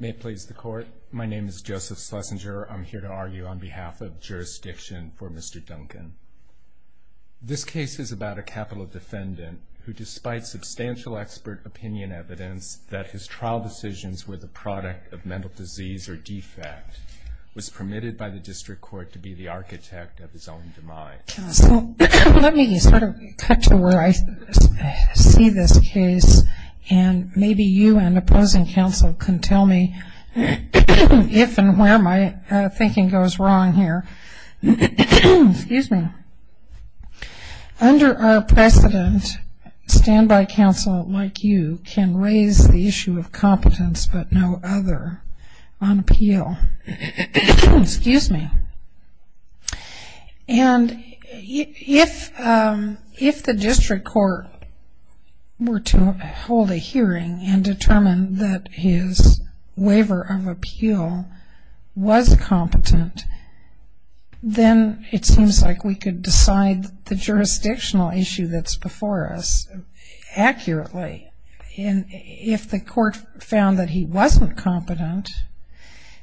May it please the Court, my name is Joseph Schlesinger. I'm here to argue on behalf of jurisdiction for Mr. Duncan. This case is about a capital defendant who, despite substantial expert opinion evidence that his trial decisions were the product of mental disease or defect, was permitted by the district court to be the architect of his own demise. Let me cut to where I see this case and maybe you, an opposing counsel, can tell me if and where my thinking goes wrong here. Excuse me. Under our precedent, a standby counsel like you can raise the issue of competence but no other on appeal. Excuse me. And if the district court were to hold a hearing and determine that his waiver of appeal was competent, then it seems like we could decide the jurisdictional issue that's before us accurately. And if the court found that he wasn't competent,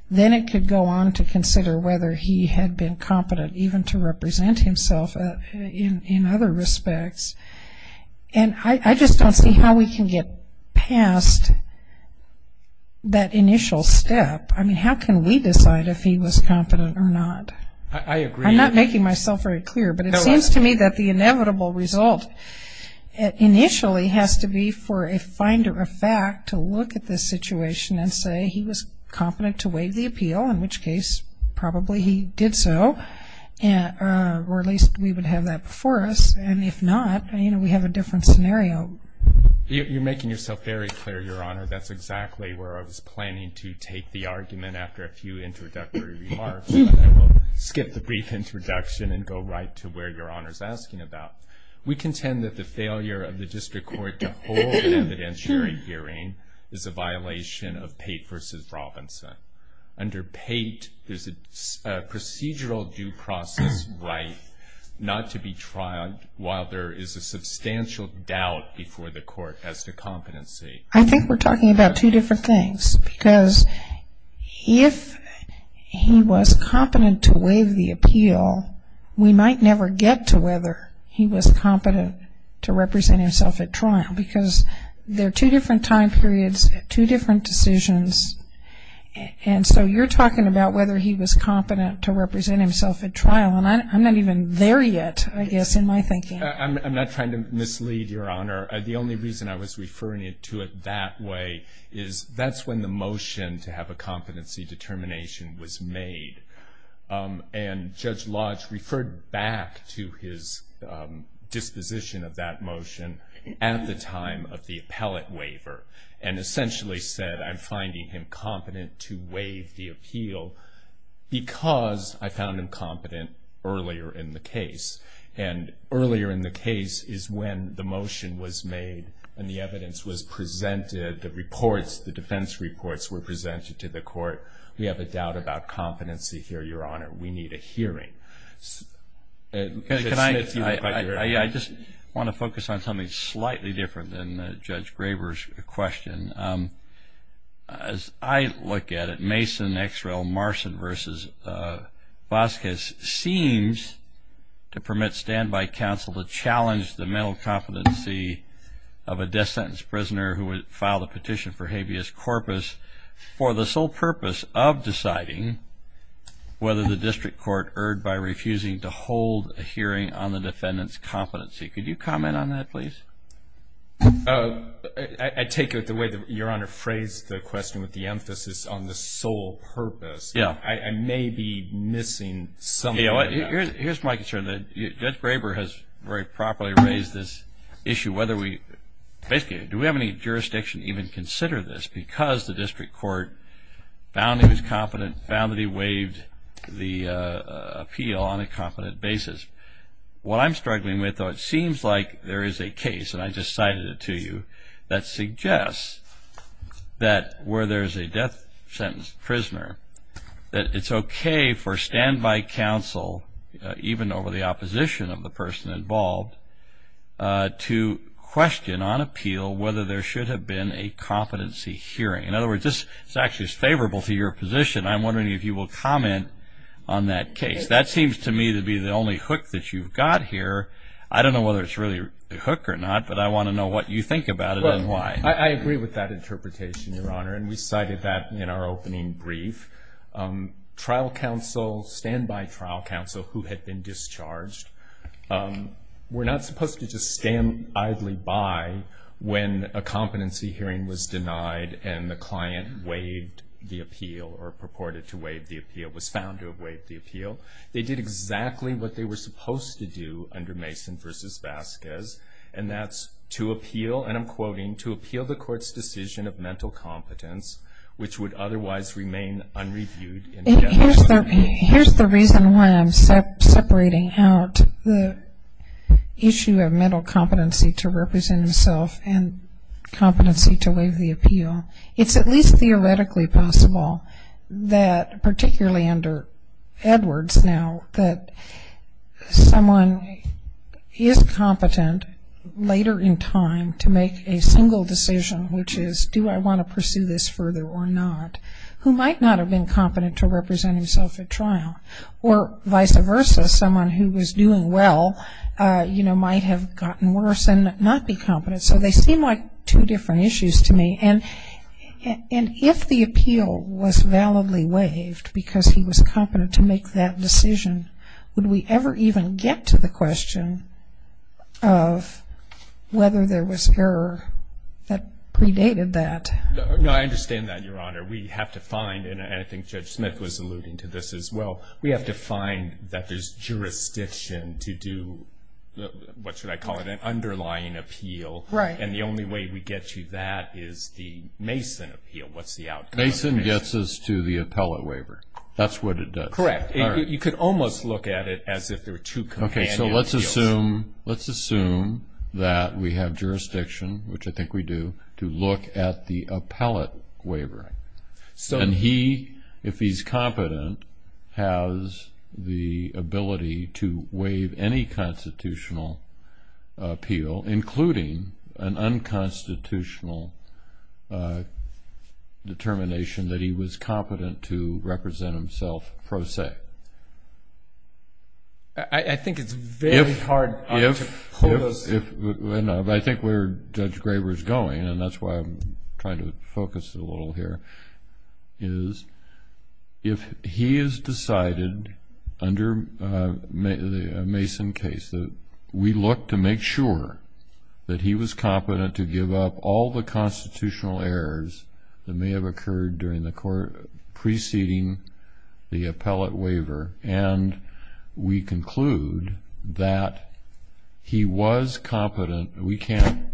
then it could go on to consider whether he had been competent even to represent himself in other respects. And I just don't see how we can get past that initial step. I mean, how can we decide if he was competent or not? I agree. I'm not making myself very clear, but it seems to me that the inevitable result initially has to be for a finder of fact to look at this situation and say he was competent to waive the appeal, in which case probably he did so. Or at least we would have that before us. And if not, I mean, we have a different scenario. You're making yourself very clear, Your Honor. That's exactly where I was planning to take the argument after a few introductory remarks. We'll skip the brief introduction and go right to where Your Honor is asking about. We contend that the failure of the district court to hold an evidentiary hearing is a violation of Pate v. Robinson. Under Pate, there's a procedural due process right not to be trialed while there is a substantial doubt before the court as to competency. I think we're talking about two different things. Because if he was competent to waive the appeal, we might never get to whether he was competent to represent himself at trial. Because there are two different time periods, two different decisions. And so you're talking about whether he was competent to represent himself at trial. And I'm not even there yet, I guess, in my thinking. I'm not trying to mislead, Your Honor. The only reason I was referring to it that way is that's when the motion to have a competency determination was made. And Judge Lodge referred back to his disposition of that motion at the time of the appellate waiver. And essentially said, I'm finding him competent to waive the appeal because I found him competent earlier in the case. And earlier in the case is when the motion was made and the evidence was presented, the reports, the defense reports were presented to the court. We have a doubt about competency here, Your Honor. We need a hearing. I just want to focus on something slightly different than Judge Graber's question. As I look at it, Mason, Exrell, Marston versus Vasquez seems to permit standby counsel to challenge the mental competency of a death defense of deciding whether the district court erred by refusing to hold a hearing on the defendant's competency. Could you comment on that, please? I take it the way that Your Honor phrased the question with the emphasis on the sole purpose. I may be missing something. Here's my concern. Judge Graber has very properly raised this issue. Basically, do we have any jurisdiction to even consider this because the district court found him as competent, found that he waived the appeal on a competent basis? What I'm struggling with, though, it seems like there is a case, and I just cited it to you, that suggests that where there is a death sentence prisoner, that it's okay for standby counsel, even over the opposition of the person involved, to question on appeal whether there should have been a competency hearing. In other words, this is actually favorable to your position. I'm wondering if you will comment on that case. That seems to me to be the only hook that you've got here. I don't know whether it's really a hook or not, but I want to know what you think about it and why. I agree with that interpretation, Your Honor, and we cited that in our opening brief. Trial counsel, standby trial counsel who had been discharged were not supposed to just stand idly by when a competency hearing was denied and the client waived the appeal or purported to waive the appeal, was found to have waived the appeal. They did exactly what they were supposed to do under Mason v. Vasquez, and that's to appeal, and I'm quoting, to appeal the court's decision of mental competence, which would otherwise remain unreviewed. Here's the reason why I'm separating out the issue of mental competency to represent himself and competency to waive the appeal. It's at least theoretically possible that, particularly under Edwards now, that someone is competent later in time to make a single decision, which is do I want to pursue this further or not, who might not have been competent to represent himself at trial, or vice versa, someone who was doing well, you know, might have gotten worse and not be competent. So they seem like two different issues to me, and if the appeal was validly waived because he was competent to make that decision, would we ever even get to the question of whether there was error that predated that? No, I understand that, Your Honor. We have to find, and I think Judge Smith was alluding to this as well, we have to find that there's jurisdiction to do, what should I call it, an underlying appeal, and the only way we get to that is the Mason appeal. What's the outcome? Mason gets us to the appellate waiver. That's what it does. Correct. You could almost look at it as if there were two companions. Okay, so let's assume that we have jurisdiction, which I think we do, to look at the appellate waiver. And he, if he's competent, has the ability to waive any constitutional appeal, including an unconstitutional determination that he was competent to represent himself pro se. I think it's very hard. I think where Judge Graber is going, and that's why I'm trying to focus a little here, is if he has decided under a Mason case that we look to make sure that he was competent to give up all the constitutional errors that may have occurred during the court preceding the appellate waiver, and we conclude that he was competent, we can't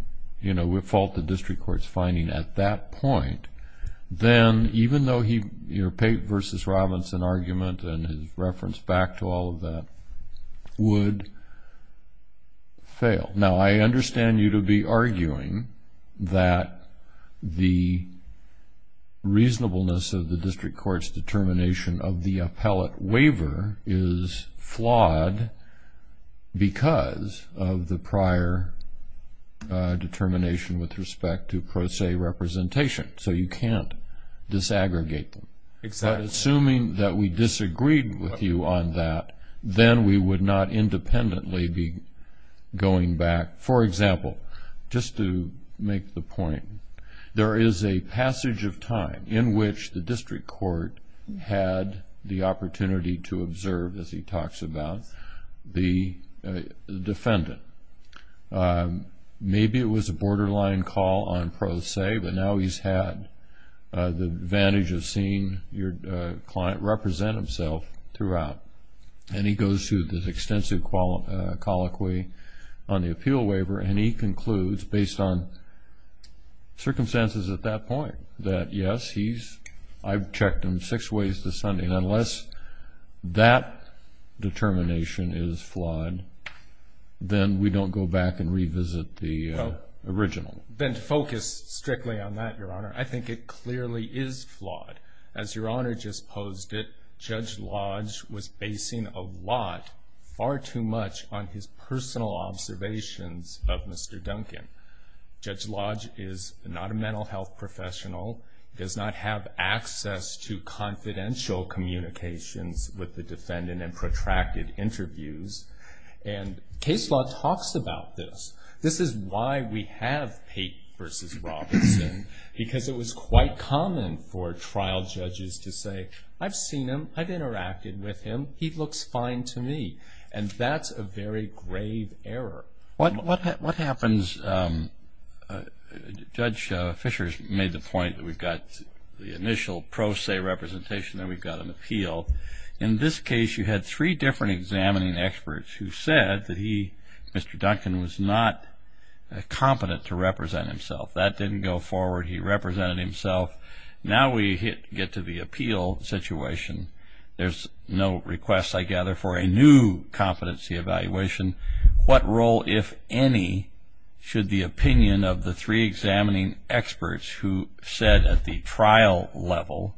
fault the district court's finding at that point, then even though he, your Pate v. Robinson argument and his reference back to all of that would fail. Now, I understand you to be arguing that the reasonableness of the district court's determination of the appellate waiver is flawed because of the prior determination with respect to pro se representation. So you can't disaggregate them. Assuming that we disagreed with you on that, then we would not independently be going back. For example, just to make the point, there is a passage of time in which the district court had the opportunity to observe, as he talks about, the defendant. Maybe it was a borderline call on pro se, but now he's had the advantage of seeing your client represent himself throughout. And he goes through this extensive colloquy on the appeal waiver, and he concludes, based on circumstances at that point, that yes, I've checked him six ways this Sunday, and unless that determination is flawed, then we don't go back and revisit the original. Ben, focus strictly on that, your Honor. I think it clearly is flawed. As your Honor just posed it, Judge Lodge was basing a lot, far too much, on his personal observations of Mr. Duncan. Judge Lodge is not a mental health professional, does not have access to confidential communication with the defendant in protracted interviews. And case law talks about this. This is why we have Pate v. Robinson, because it was quite common for trial judges to say, I've seen him, I've interacted with him, he looks fine to me. And that's a very grave error. What happens, Judge Fischer made the point that we've got the initial pro se representation, then we've got an appeal. In this case, you had three different examining experts who said that he, Mr. Duncan, was not competent to represent himself. That didn't go forward. He represented himself. Now we get to the appeal situation. There's no request, I gather, for a new competency evaluation. What role, if any, should the opinion of the three examining experts who said at the trial level,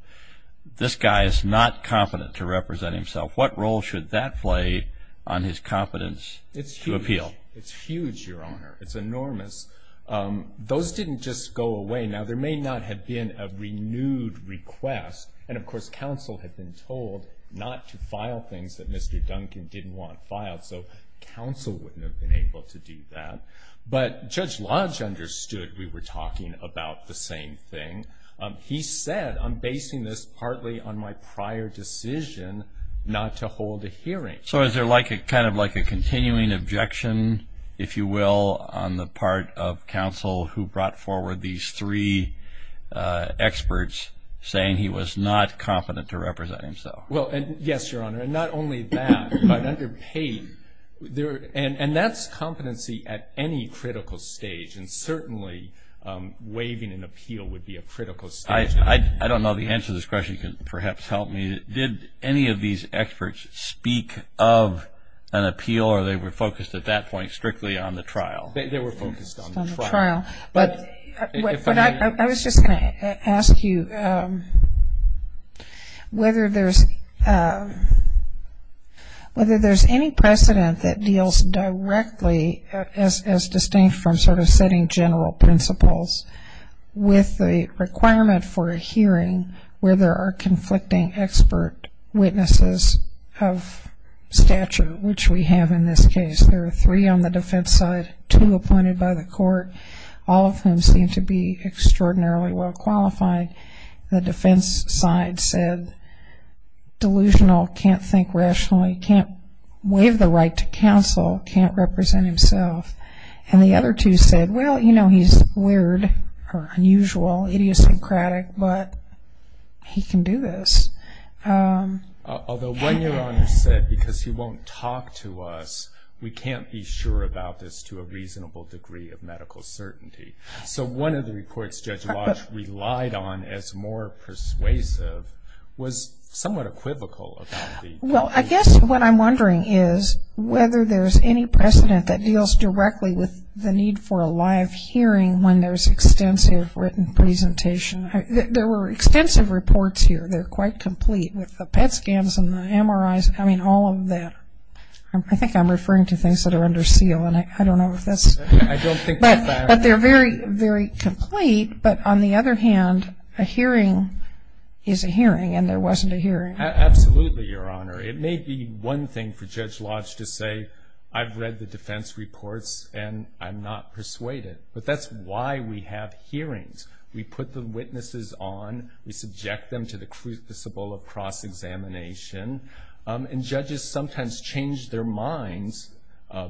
this guy is not competent to represent himself, what role should that play on his competence to appeal? It's huge, Your Honor. It's enormous. Those didn't just go away. Now there may not have been a renewed request. And, of course, counsel had been told not to file things that Mr. Duncan didn't want filed. So counsel wouldn't have been able to do that. But Judge Lodge understood we were talking about the same thing. He said, I'm basing this partly on my prior decision not to hold a hearing. So is there kind of like a continuing objection, if you will, on the part of counsel who brought forward these three experts saying he was not confident to represent himself? Yes, Your Honor. And not only that, but underpaid. And that's competency at any critical stage. And certainly waiving an appeal would be a critical stage. I don't know if the answer to this question can perhaps help me. Did any of these experts speak of an appeal or they were focused at that point strictly on the trial? They were focused on the trial. But I was just going to ask you whether there's any precedent that deals directly as distinct from sort of setting general principles with the requirement for a hearing where there are conflicting expert witnesses of statute, which we have in this case. There are three on the defense side, two appointed by the court. All of them seem to be extraordinarily well qualified. The defense side said delusional, can't think rationally, can't waive the right to counsel, can't represent himself. And the other two said, well, you know, he's weird or unusual, idiosyncratic, but he can do this. Although later on they said, because he won't talk to us, we can't be sure about this to a reasonable degree of medical certainty. So one of the reports Judge Walsh relied on as more persuasive was somewhat equivocal about the appeal. Well, I guess what I'm wondering is whether there's any precedent that deals directly with the need for a live hearing when there's extensive written presentation. There were extensive reports here. They're quite complete. The PET scans and the MRIs, I mean, all of them. I think I'm referring to things that are under seal, and I don't know if that's. I don't think that's accurate. But they're very, very complete. But on the other hand, a hearing is a hearing, and there wasn't a hearing. Absolutely, Your Honor. It may be one thing for Judge Walsh to say, I've read the defense reports, and I'm not persuaded. But that's why we have hearings. We put the witnesses on. We subject them to the crucible of cross-examination. And judges sometimes change their minds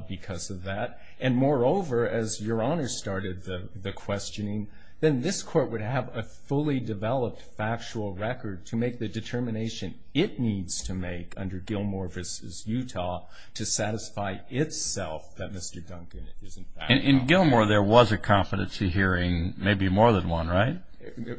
because of that. And moreover, as Your Honor started the questioning, then this Court would have a fully developed factual record to make the determination it needs to make under Gilmore v. In Gilmore, there was a competency hearing, maybe more than one, right?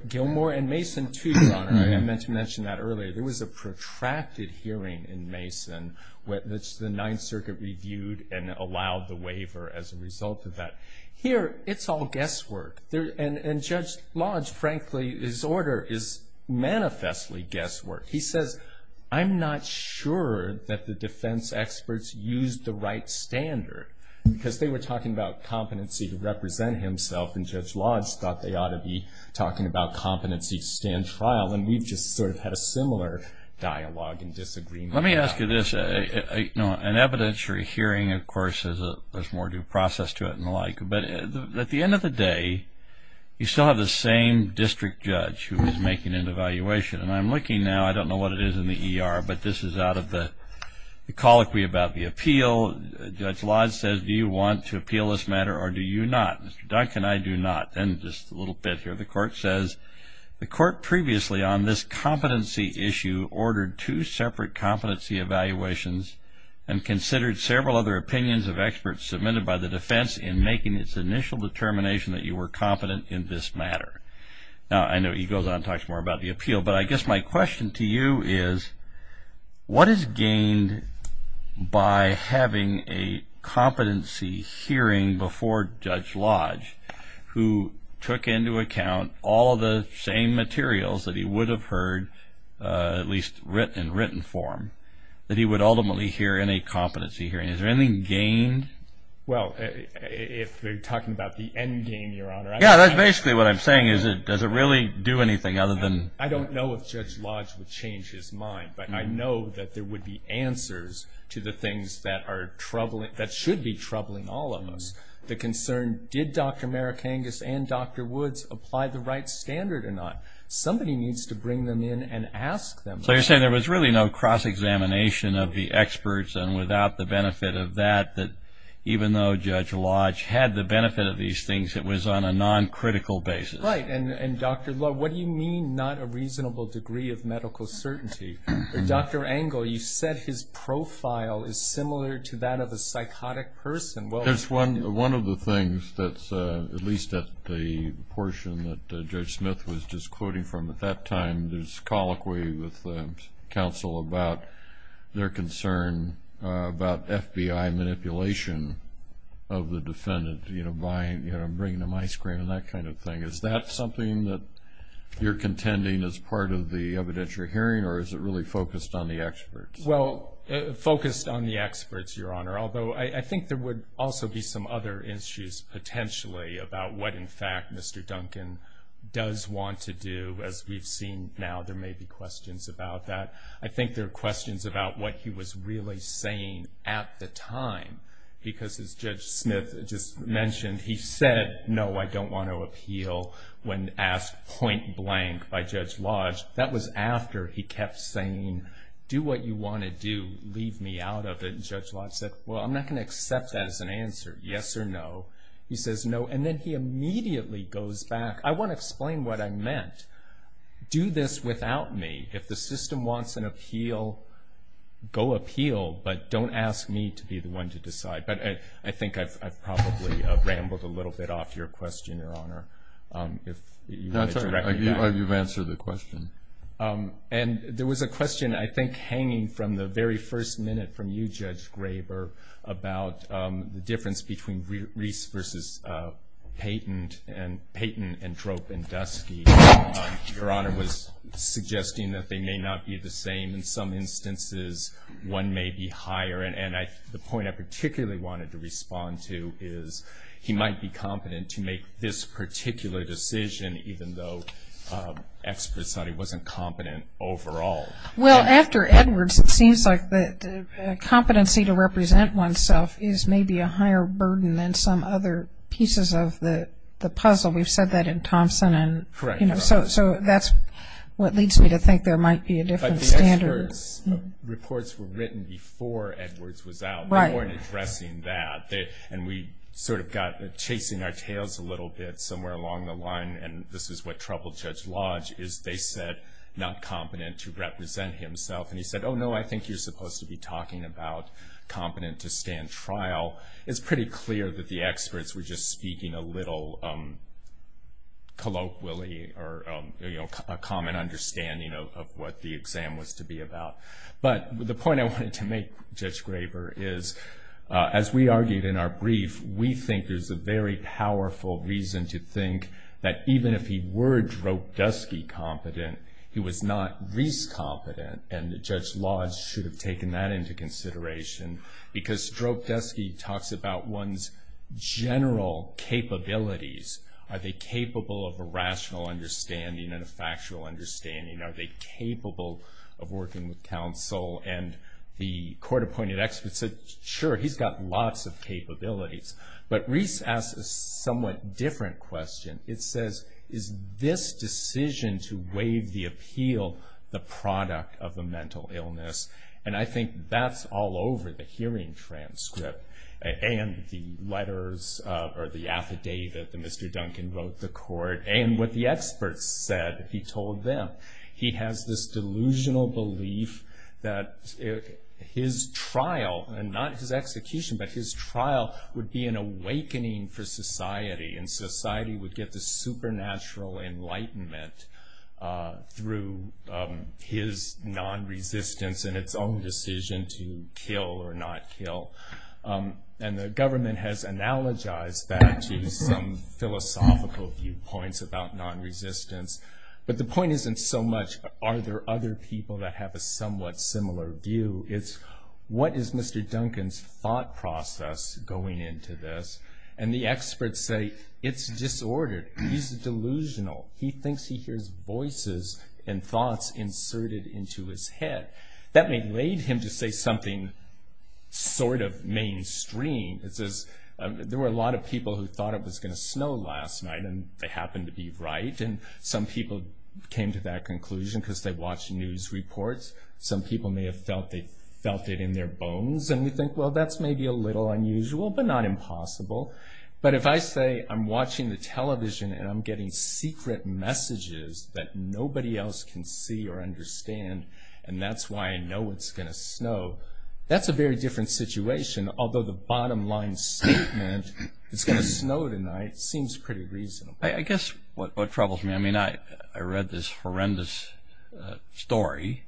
Gilmore and Mason, too, Your Honor. I mentioned that earlier. There was a protracted hearing in Mason where the Ninth Circuit reviewed and allowed the waiver as a result of that. Here, it's all guesswork. And Judge Lodge, frankly, his order is manifestly guesswork. He says, I'm not sure that the defense experts used the right standard, because they were talking about competency to represent himself, and Judge Lodge thought they ought to be talking about competency to stand trial. And we just sort of had a similar dialogue and disagreement. Let me ask you this. An evidentiary hearing, of course, has more due process to it and the like. But at the end of the day, you still have the same district judge who is making an evaluation. And I'm looking now. I don't know what it is in the ER, but this is out of the colloquy about the appeal. Judge Lodge says, do you want to appeal this matter or do you not? Mr. Duncan, I do not. And just a little bit here, the court says, the court previously on this competency issue ordered two separate competency evaluations and considered several other opinions of experts submitted by the defense in making its initial determination that you were competent in this matter. Now, I know he goes on and talks more about the appeal, but I guess my question to you is, what is gained by having a competency hearing before Judge Lodge, who took into account all the same materials that he would have heard, at least in written form, that he would ultimately hear in a competency hearing? Is there anything gained? Well, if you're talking about the end game, Your Honor. Yeah, that's basically what I'm saying is, does it really do anything other than? I don't know if Judge Lodge would change his mind, but I know that there would be answers to the things that are troubling, that should be troubling all of us. The concern, did Dr. Marikangas and Dr. Woods apply the right standard or not? Somebody needs to bring them in and ask them that. So you're saying there was really no cross-examination of the experts and without the benefit of that, that even though Judge Lodge had the benefit of these things, it was on a non-critical basis. Right. And, Dr. Lodge, what do you mean not a reasonable degree of medical certainty? Dr. Engel, you said his profile is similar to that of a psychotic person. That's one of the things that's, at least at the portion that Judge Smith was just quoting from at that time, with counsel about their concern about FBI manipulation of the defendant, you know, bringing them ice cream and that kind of thing. Is that something that you're contending as part of the evidence you're hearing, or is it really focused on the experts? Well, focused on the experts, Your Honor, although I think there would also be some other issues potentially about what, in fact, Mr. Duncan does want to do, as we've seen now. There may be questions about that. I think there are questions about what he was really saying at the time, because as Judge Smith just mentioned, he said, no, I don't want to appeal when asked point blank by Judge Lodge. That was after he kept saying, do what you want to do, leave me out of it. And Judge Lodge said, well, I'm not going to accept that as an answer, yes or no. He says no, and then he immediately goes back. I want to explain what I meant. Do this without me. If the system wants an appeal, go appeal, but don't ask me to be the one to decide. But I think I've probably rambled a little bit off your question, Your Honor. I believe you've answered the question. And there was a question, I think, hanging from the very first minute from you, Judge Graber, about the difference between Reese versus Payton, and Payton and Trope and Dusky. Your Honor was suggesting that they may not be the same. In some instances, one may be higher. And the point I particularly wanted to respond to is he might be competent to make this particular decision, even though experts thought he wasn't competent overall. Well, after Edwards, it seems like the competency to represent oneself is maybe a higher burden than some other pieces of the puzzle. We've said that in Thompson. So that's what leads me to think there might be a different standard. But the Edwards reports were written before Edwards was out. They weren't addressing that. And we sort of got chasing our tails a little bit somewhere along the line, and this is what troubled Judge Lodge, is they said not competent to represent himself. And he said, oh, no, I think you're supposed to be talking about competent to stand trial. It's pretty clear that the experts were just speaking a little colloquially or a common understanding of what the exam was to be about. But the point I wanted to make, Judge Graber, is as we argued in our brief, we think there's a very powerful reason to think that even if he were Dropdesky-competent, he was not Reese-competent, and Judge Lodge should have taken that into consideration, because Dropdesky talks about one's general capabilities. Are they capable of a rational understanding and a factual understanding? Are they capable of working with counsel? And the court appointed experts said, sure, he's got lots of capabilities. But Reese asked a somewhat different question. It says, is this decision to waive the appeal the product of a mental illness? And I think that's all over the hearing transcript and the letters or the affidavit that Mr. Duncan wrote the court and what the experts said that he told them. He has this delusional belief that his trial, and not his execution, but his trial would be an awakening for society, and society would get the supernatural enlightenment through his nonresistance and its own decision to kill or not kill. And the government has analogized that to some philosophical viewpoints about nonresistance. But the point isn't so much are there other people that have a somewhat similar view. It's what is Mr. Duncan's thought process going into this? And the experts say it's disordered. He's delusional. He thinks he hears voices and thoughts inserted into his head. That may lead him to say something sort of mainstream. It says there were a lot of people who thought it was going to snow last night, and they happened to be right. And some people came to that conclusion because they watched news reports. Some people may have felt it in their bones. And we think, well, that's maybe a little unusual, but not impossible. But if I say I'm watching the television and I'm getting secret messages that nobody else can see or understand, and that's why I know it's going to snow, that's a very different situation. Although the bottom line statement, it's going to snow tonight, seems pretty reasonable. I guess what troubles me, I mean, I read this horrendous story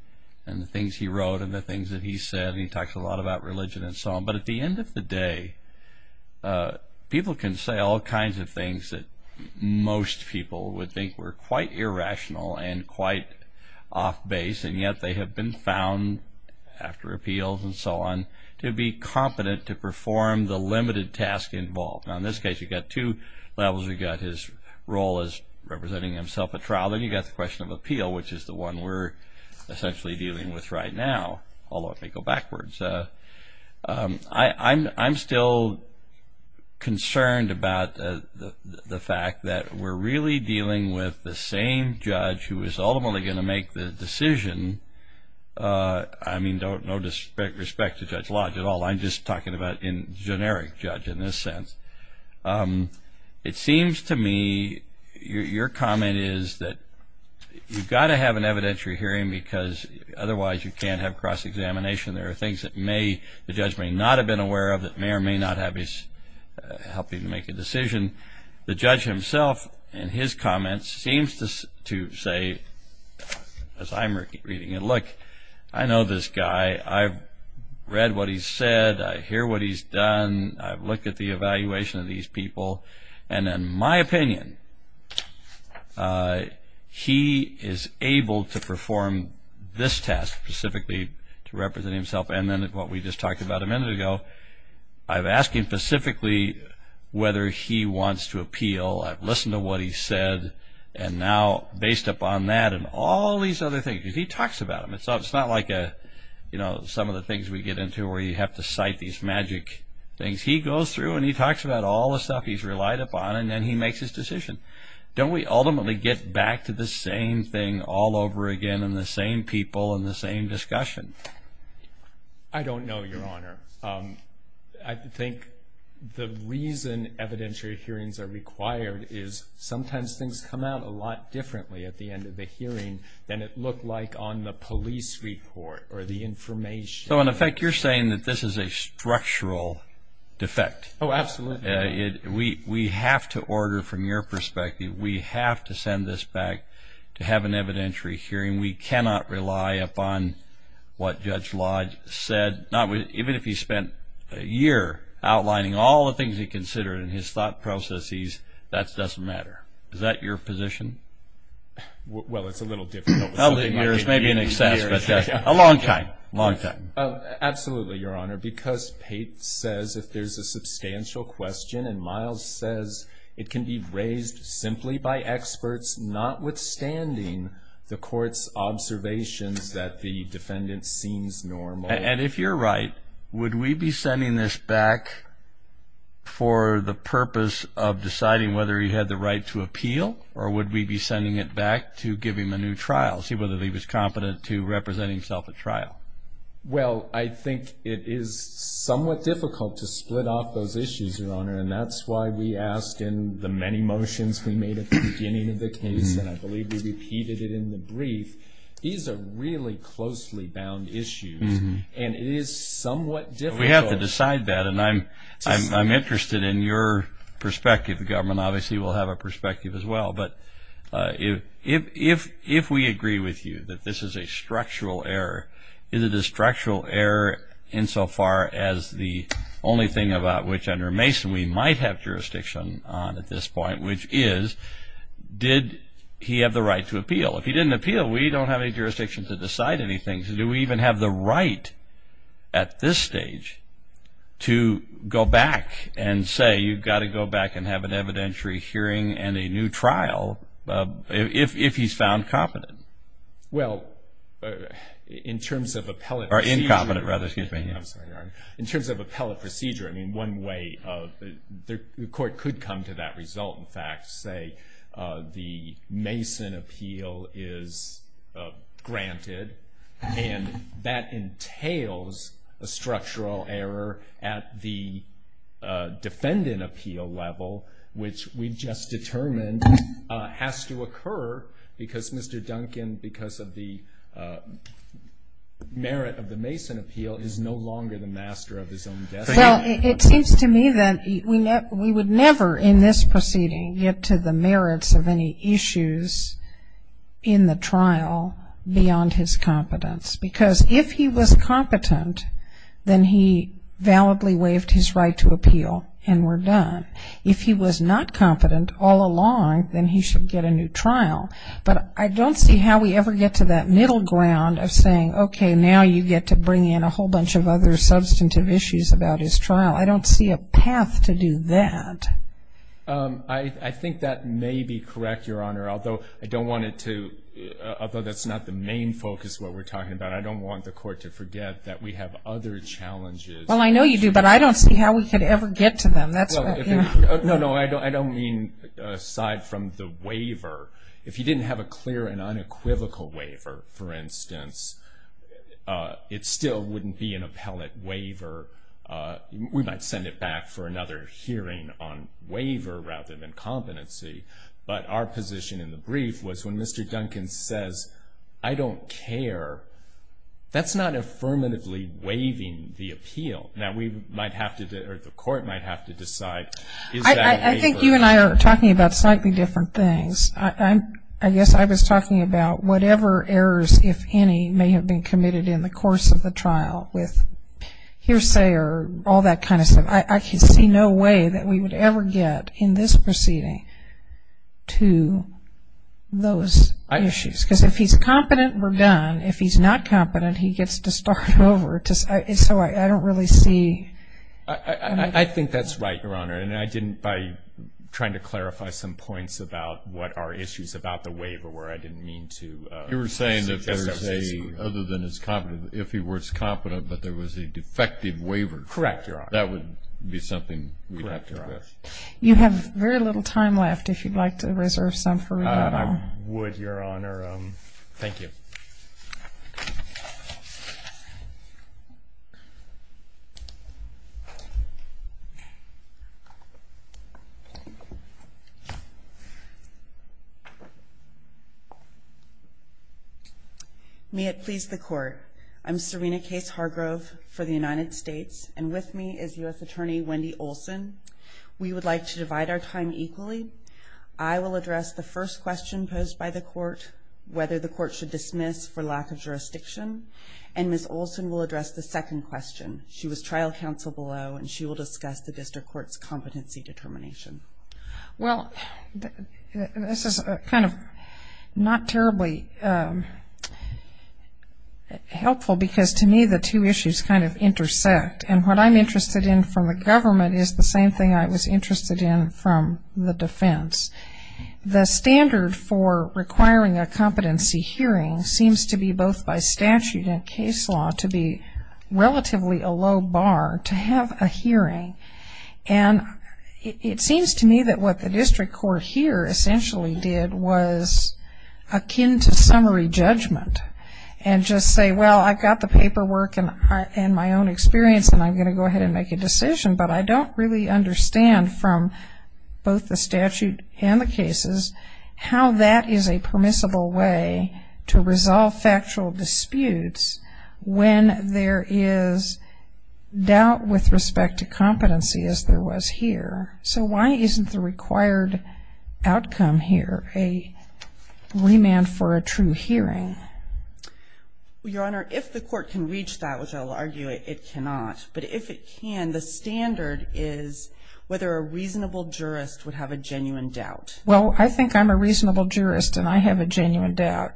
and the things he wrote and the things that he said. He talks a lot about religion and so on. But at the end of the day, people can say all kinds of things that most people would think were quite irrational and quite off base, and yet they have been found, after appeals and so on, to be competent to perform the limited task involved. Now, in this case, you've got two levels. You've got his role as representing himself at trial. Then you've got the question of appeal, which is the one we're essentially dealing with right now, although if we go backwards. I'm still concerned about the fact that we're really dealing with the same judge who is ultimately going to make the decision. I mean, no disrespect to Judge Lodge at all. I'm just talking about a generic judge in this sense. It seems to me your comment is that you've got to have an evidentiary hearing because otherwise you can't have cross-examination. There are things that the judge may not have been aware of that may or may not have helped him make a decision. The judge himself, in his comments, seems to say, as I'm reading it, look, I know this guy. I've read what he's said. I hear what he's done. I've looked at the evaluation of these people. And in my opinion, he is able to perform this task specifically to represent himself. And then what we just talked about a minute ago, I've asked him specifically whether he wants to appeal. I've listened to what he's said. And now based upon that and all these other things, because he talks about them. It's not like some of the things we get into where you have to cite these magic things. He goes through and he talks about all the stuff he's relied upon, and then he makes his decision. Don't we ultimately get back to the same thing all over again and the same people and the same discussion? I don't know, Your Honor. I think the reason evidentiary hearings are required is sometimes things come out a lot differently at the end of the hearing than it looked like on the police report or the information. So, in effect, you're saying that this is a structural defect. Oh, absolutely. We have to order from your perspective. We have to send this back to have an evidentiary hearing. We cannot rely upon what Judge Lodge said, even if he spent a year outlining all the things he considered and his thought processes, that doesn't matter. Is that your position? Well, it's a little different. A long time, a long time. Absolutely, Your Honor, because Pate says that there's a substantial question, and Miles says it can be raised simply by experts notwithstanding the court's observations that the defendant seems normal. And if you're right, would we be sending this back for the purpose of deciding whether he had the right to appeal or would we be sending it back to give him a new trial, see whether he was competent to represent himself at trial? Well, I think it is somewhat difficult to split off those issues, Your Honor, and that's why we ask in the many motions we made at the beginning of the case, and I believe we repeated it in the brief, these are really closely bound issues, and it is somewhat difficult. We have to decide that, and I'm interested in your perspective. The government obviously will have a perspective as well. But if we agree with you that this is a structural error, is it a structural error insofar as the only thing about which under Mason we might have jurisdiction on at this point, which is did he have the right to appeal? If he didn't appeal, we don't have any jurisdiction to decide anything. Do we even have the right at this stage to go back and say you've got to go back and have an evidentiary hearing and a new trial if he's found competent? Well, in terms of appellate procedure, I mean, one way the court could come to that result, in fact, the Mason appeal is granted, and that entails a structural error at the defendant appeal level, which we just determined has to occur because Mr. Duncan, because of the merit of the Mason appeal, is no longer the master of his own destiny. Well, it seems to me that we would never in this proceeding get to the merits of any issues in the trial beyond his competence. Because if he was competent, then he validly waived his right to appeal and we're done. If he was not competent all along, then he should get a new trial. But I don't see how we ever get to that middle ground of saying, okay, now you get to bring in a whole bunch of other substantive issues about his trial. I don't see a path to do that. I think that may be correct, Your Honor. Although I don't want it to, although that's not the main focus of what we're talking about, I don't want the court to forget that we have other challenges. Well, I know you do, but I don't see how we could ever get to them. No, no, I don't mean aside from the waiver. If you didn't have a clear and unequivocal waiver, for instance, it still wouldn't be an appellate waiver. We might send it back for another hearing on waiver rather than competency. But our position in the brief was when Mr. Duncan says, I don't care, that's not affirmatively waiving the appeal. Now, we might have to, or the court might have to decide. I think you and I are talking about slightly different things. I guess I was talking about whatever errors, if any, may have been committed in the course of the trial with hearsay or all that kind of stuff. I can see no way that we would ever get in this proceeding to those issues. Because if he's competent, we're done. If he's not competent, he gets to start over. So I don't really see. I think that's right, Your Honor. And I didn't, by trying to clarify some points about what our issues about the waiver were, I didn't mean to. You were saying that there was a, other than if he was competent, but there was a defective waiver. Correct, Your Honor. That would be something we'd have to address. You have very little time left if you'd like to reserve some for rebuttal. I would, Your Honor. Thank you. May it please the Court. I'm Serena Case Hargrove for the United States. And with me is U.S. Attorney Wendy Olson. We would like to divide our time equally. I will address the first question posed by the Court, whether the Court should dismiss for lack of jurisdiction. And Ms. Olson will address the second question. She was trial counsel below. And she will discuss the District Court's competency determination. Well, this is kind of not terribly helpful because to me the two issues kind of intersect. And what I'm interested in from a government is the same thing I was interested in from the defense. The standard for requiring a competency hearing seems to be both by statute and case law to be relatively a low bar to have a hearing. And it seems to me that what the District Court here essentially did was akin to summary judgment. And just say, well, I've got the paperwork and my own experience and I'm going to go ahead and make a decision. But I don't really understand from both the statute and the cases how that is a permissible way to resolve factual disputes when there is doubt with respect to competency as there was here. So why isn't the required outcome here a remand for a true hearing? Your Honor, if the Court can reach that, which I'll argue it cannot. But if it can, the standard is whether a reasonable jurist would have a genuine doubt. Well, I think I'm a reasonable jurist and I have a genuine doubt.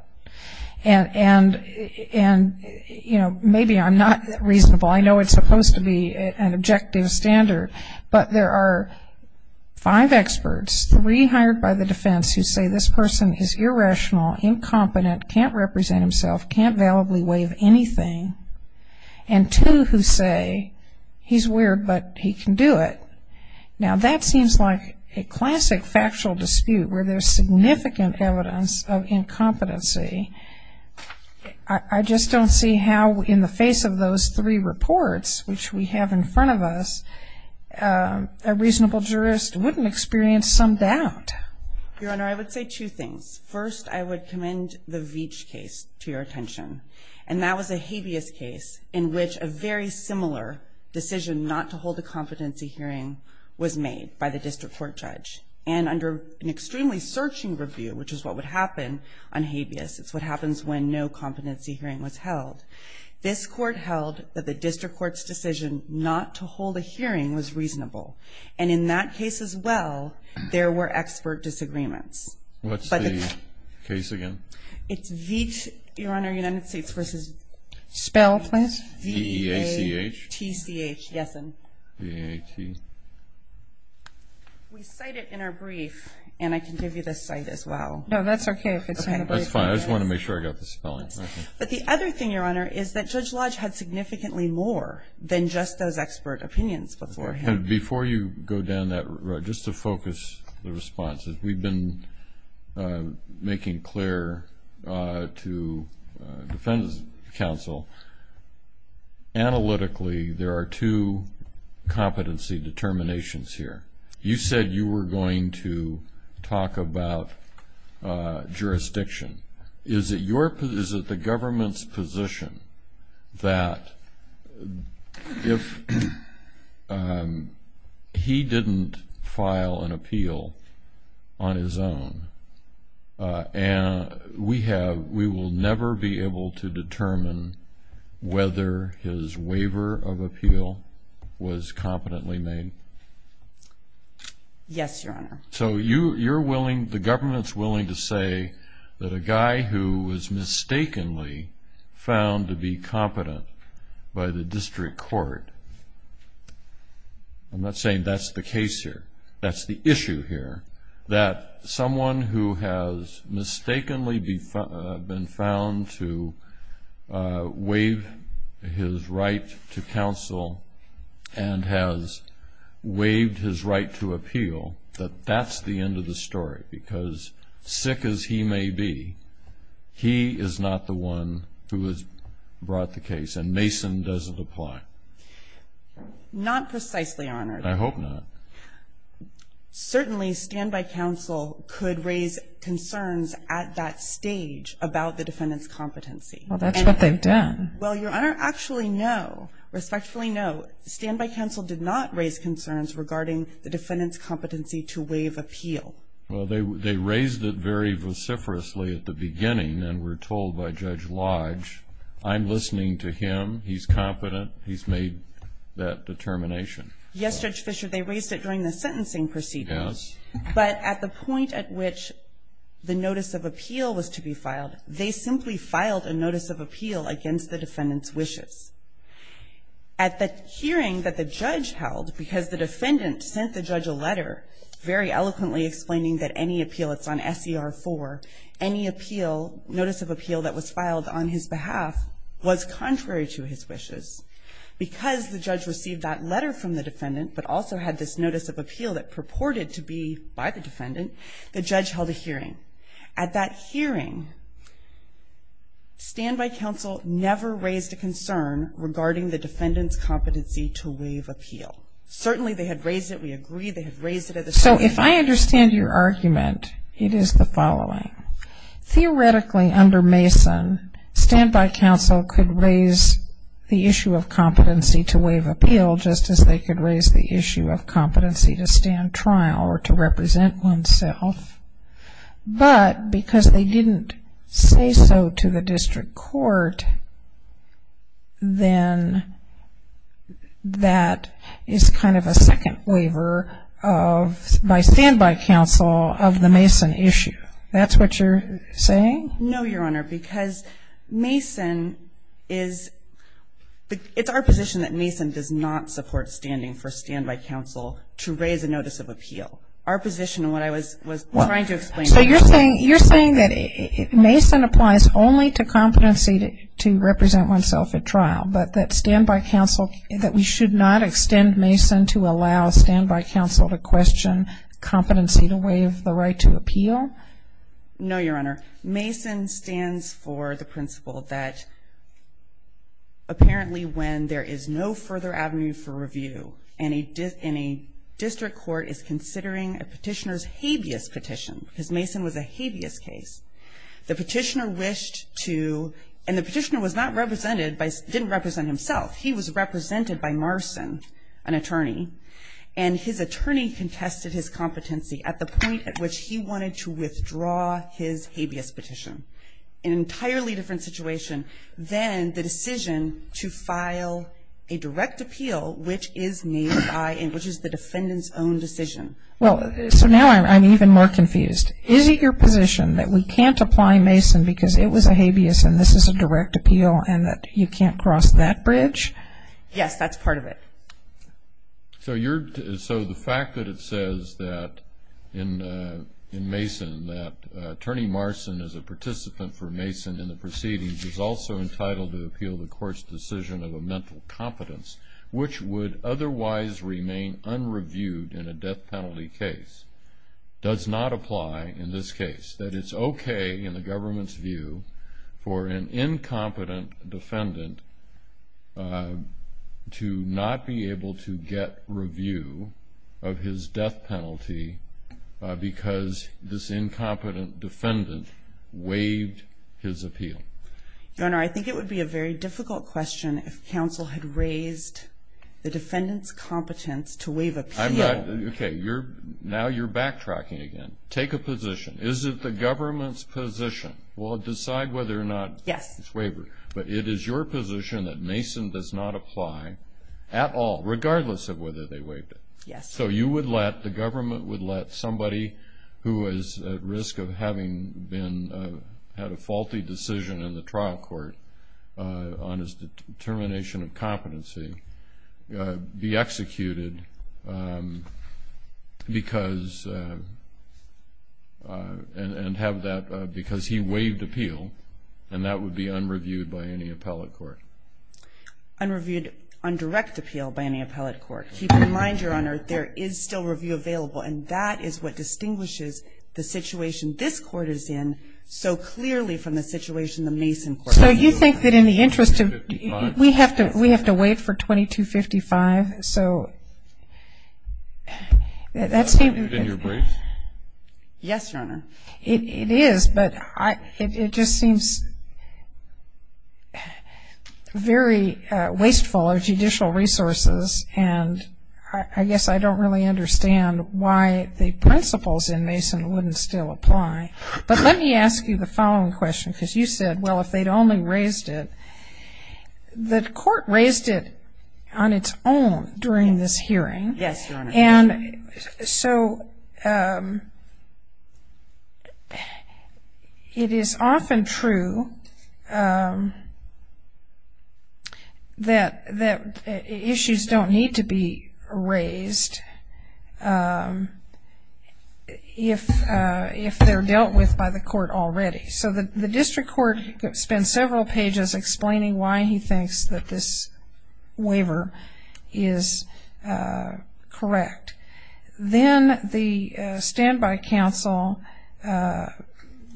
And, you know, maybe I'm not reasonable. I know it's supposed to be an objective standard. But there are five experts, three hired by the defense who say this person is irrational, incompetent, can't represent himself, can't validly waive anything. And two who say he's weird, but he can do it. Now, that seems like a classic factual dispute where there's significant evidence of incompetency. I just don't see how in the face of those three reports, which we have in front of us, a reasonable jurist wouldn't experience some doubt. Your Honor, I would say two things. First, I would commend the Veatch case to your attention. And that was a habeas case in which a very similar decision not to hold a competency hearing was made by the district court judge. And under an extremely searching review, which is what would happen on habeas, it's what happens when no competency hearing was held, this Court held that the district court's decision not to hold a hearing was reasonable. And in that case as well, there were expert disagreements. What's the case again? It's Veatch, Your Honor, United States v. Spell, please. V-E-A-T-C-H. V-E-A-T-C-H, yes. V-E-A-T. We cite it in our brief, and I can give you the site as well. No, that's okay. That's fine. I just wanted to make sure I got the spelling. But the other thing, Your Honor, is that Judge Lodge had significantly more than just those expert opinions beforehand. Before you go down that road, just to focus the responses, we've been making clear to the Defendant's Council, analytically there are two competency determinations here. You said you were going to talk about jurisdiction. Is it the government's position that if he didn't file an appeal on his own, we will never be able to determine whether his waiver of appeal was competently made? Yes, Your Honor. So you're willing, the government's willing to say that a guy who was mistakenly found to be competent by the district court, I'm not saying that's the case here. That's the issue here, that someone who has mistakenly been found to waive his right to counsel and has waived his right to appeal, that that's the end of the story. Because sick as he may be, he is not the one who has brought the case, and Mason doesn't apply. Not precisely, Your Honor. I hope not. Certainly, Standby Council could raise concerns at that stage about the defendant's competency. Well, that's what they've done. Well, Your Honor, actually no, respectfully no. Standby Council did not raise concerns regarding the defendant's competency to waive appeal. Well, they raised it very vociferously at the beginning and were told by Judge Lodge, I'm listening to him, he's competent, he's made that determination. Yes, Judge Fisher, they raised it during the sentencing proceedings. Yes. But at the point at which the notice of appeal was to be filed, they simply filed a notice of appeal against the defendant's wishes. At the hearing that the judge held, because the defendant sent the judge a letter very eloquently explaining that any appeal that's on S.E.R. 4, any appeal, notice of appeal that was filed on his behalf, was contrary to his wishes. Because the judge received that letter from the defendant, but also had this notice of appeal that purported to be by the defendant, the judge held a hearing. At that hearing, Standby Council never raised a concern regarding the defendant's competency to waive appeal. Certainly they had raised it, we agree, they had raised it at the So if I understand your argument, it is the following. Theoretically under Mason, Standby Council could raise the issue of competency to waive appeal just as they could raise the issue of competency to stand trial or to represent oneself. But because they didn't say so to the district court, then that is kind of a second waiver by Standby Council of the Mason issue. That's what you're saying? No, Your Honor, because Mason is, it's our position that Mason does not support standing for Standby Council to raise a notice of appeal. Our position, what I was trying to explain. So you're saying that Mason applies only to competency to represent oneself at trial, but that Standby Council, that we should not extend Mason to allow Standby Council to question competency to waive the right to appeal? No, Your Honor. Mason stands for the principle that apparently when there is no further avenue for review and a district court is considering a petitioner's habeas petition, because Mason was a habeas case, the petitioner wished to, and the petitioner was not represented, didn't represent himself. He was represented by Marson, an attorney, and his attorney contested his competency at the point at which he wanted to withdraw his habeas petition. Entirely different situation than the decision to file a direct appeal, which is made by, which is the defendant's own decision. Well, so now I'm even more confused. Is it your position that we can't apply Mason because it was a habeas and this is a direct appeal and that you can't cross that bridge? Yes, that's part of it. So the fact that it says that, in Mason, that attorney Marson is a participant for Mason in the proceedings is also entitled to appeal the court's decision of a mental competence, which would otherwise remain unreviewed in a death penalty case, does not apply in this case. That it's okay in the government's view for an incompetent defendant to not be able to get review of his death penalty because this incompetent defendant waived his appeal? Your Honor, I think it would be a very difficult question if counsel had raised the defendant's competence to waive appeal. Okay, now you're backtracking again. Take a position. Is it the government's position? We'll decide whether or not it's waived, but it is your position that Mason does not apply at all, regardless of whether they waived it. So you would let, the government would let, somebody who is at risk of having had a faulty decision in the trial court on his determination of competency be executed and have that, because he waived appeal, and that would be unreviewed by any appellate court. Unreviewed, undirected appeal by any appellate court. Keep in mind, Your Honor, there is still review available, and that is what distinguishes the situation this court is in so clearly from the situation the Mason court is in. So you think that in the interest of, we have to wait for 2255, so that seems to be. Is that your break? Yes, Your Honor. It is, but it just seems very wasteful of judicial resources, and I guess I don't really understand why the principles in Mason wouldn't still apply. But let me ask you the following question, because you said, well, if they'd only raised it. The court raised it on its own during this hearing. Yes, Your Honor. And so it is often true that issues don't need to be raised if they're dealt with by the court already. So the district court spent several pages explaining why he thinks that this waiver is correct. Then the standby counsel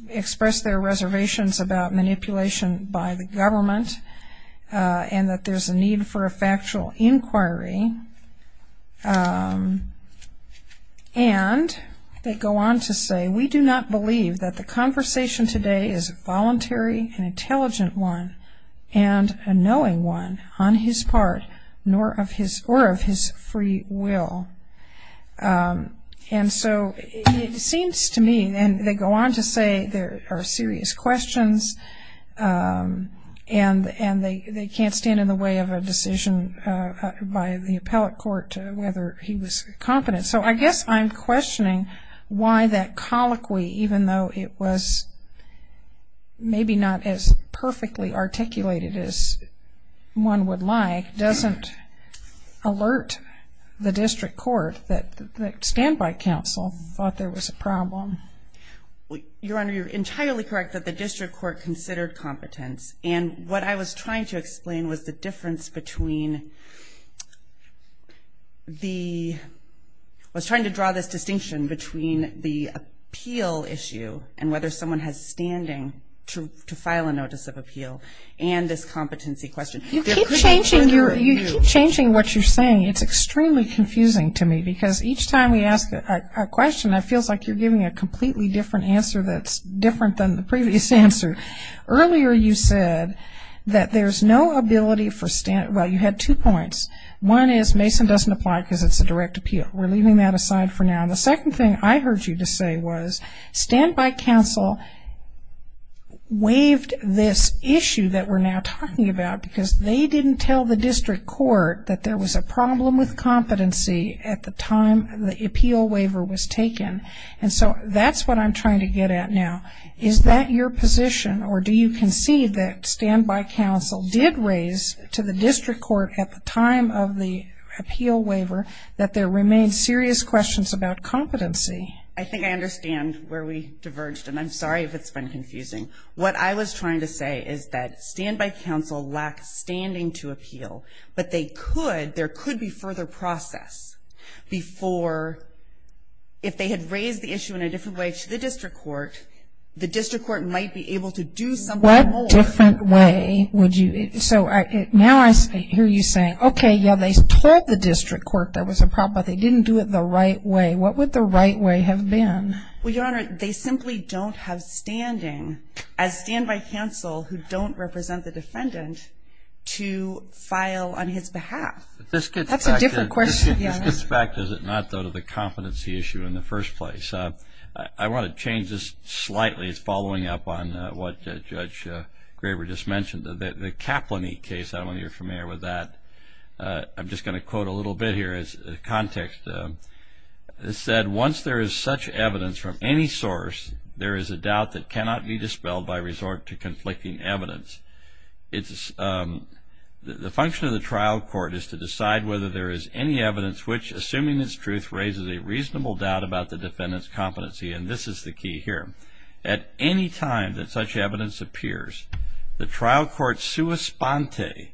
expressed their reservations about manipulation by the government and that there's a need for a factual inquiry, and they go on to say, we do not believe that the conversation today is a voluntary and intelligent one and a knowing one on his part or of his free will. And so it seems to me, and they go on to say there are serious questions, and they can't stand in the way of a decision by the appellate court whether he was confident. So I guess I'm questioning why that colloquy, even though it was maybe not as perfectly articulated as one would like, doesn't alert the district court that the standby counsel thought there was a problem. Your Honor, you're entirely correct that the district court considered competence. And what I was trying to explain was the difference between the – I was trying to draw the distinction between the appeal issue and whether someone has standing to file a notice of appeal and this competency question. You keep changing what you're saying. It's extremely confusing to me because each time you ask a question, that feels like you're giving a completely different answer that's different than the previous answer. Earlier you said that there's no ability for – well, you had two points. One is Mason doesn't apply because it's a direct appeal. We're leaving that aside for now. And the second thing I heard you just say was standby counsel waived this issue that we're now talking about because they didn't tell the district court that there was a problem with competency at the time the appeal waiver was taken. And so that's what I'm trying to get at now. Is that your position, or do you concede that standby counsel did raise to the district court at the time of the appeal waiver that there remained serious questions about competency? I think I understand where we diverged, and I'm sorry if it's been confusing. What I was trying to say is that standby counsel lacked standing to appeal, but they could – there could be further process before – if they had raised the issue in a different way to the district court, the district court might be able to do something more. What different way would you – so now I hear you saying, okay, yeah, they told the district court there was a problem, but they didn't do it the right way. What would the right way have been? Well, Your Honor, they simply don't have standing as standby counsel who don't represent the defendant to file on his behalf. That's a different question, Your Honor. This goes back, does it not, though, to the competency issue in the first place. I want to change this slightly. It's following up on what Judge Graber just mentioned. The Kaplanite case, I don't know if you're familiar with that. I'm just going to quote a little bit here as context. It said, once there is such evidence from any source, there is a doubt that cannot be dispelled by resort to conflicting evidence. The function of the trial court is to decide whether there is any evidence which, assuming it's truth, raises a reasonable doubt about the defendant's competency, and this is the key here. At any time that such evidence appears, the trial court sui sponte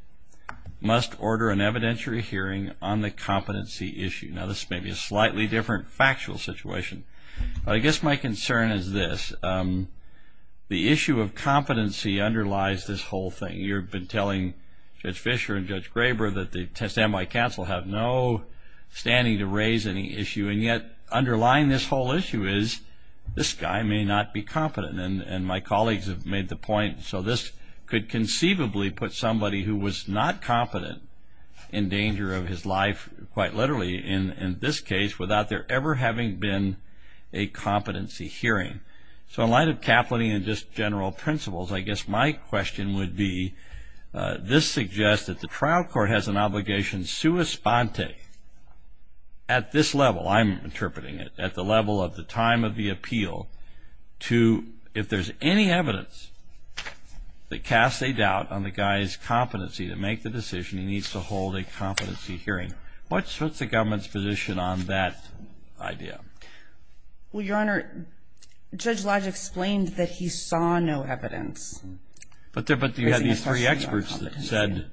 must order an evidentiary hearing on the competency issue. Now this may be a slightly different factual situation. I guess my concern is this. The issue of competency underlies this whole thing. You've been telling Judge Fischer and Judge Graber that the testimony of counsel have no standing to raise any issue, and yet underlying this whole issue is this guy may not be competent. And my colleagues have made the point, so this could conceivably put somebody who was not competent in danger of his life, quite literally in this case, without there ever having been a competency hearing. So in light of capital and just general principles, I guess my question would be, this suggests that the trial court has an obligation sui sponte at this level, I'm interpreting it, at the level of the time of the appeal, to if there's any evidence that casts a doubt on the guy's competency to make the decision, he needs to hold a competency hearing. What's the government's position on that idea? Well, Your Honor, Judge Lodge explained that he saw no evidence. But you had these three experts that said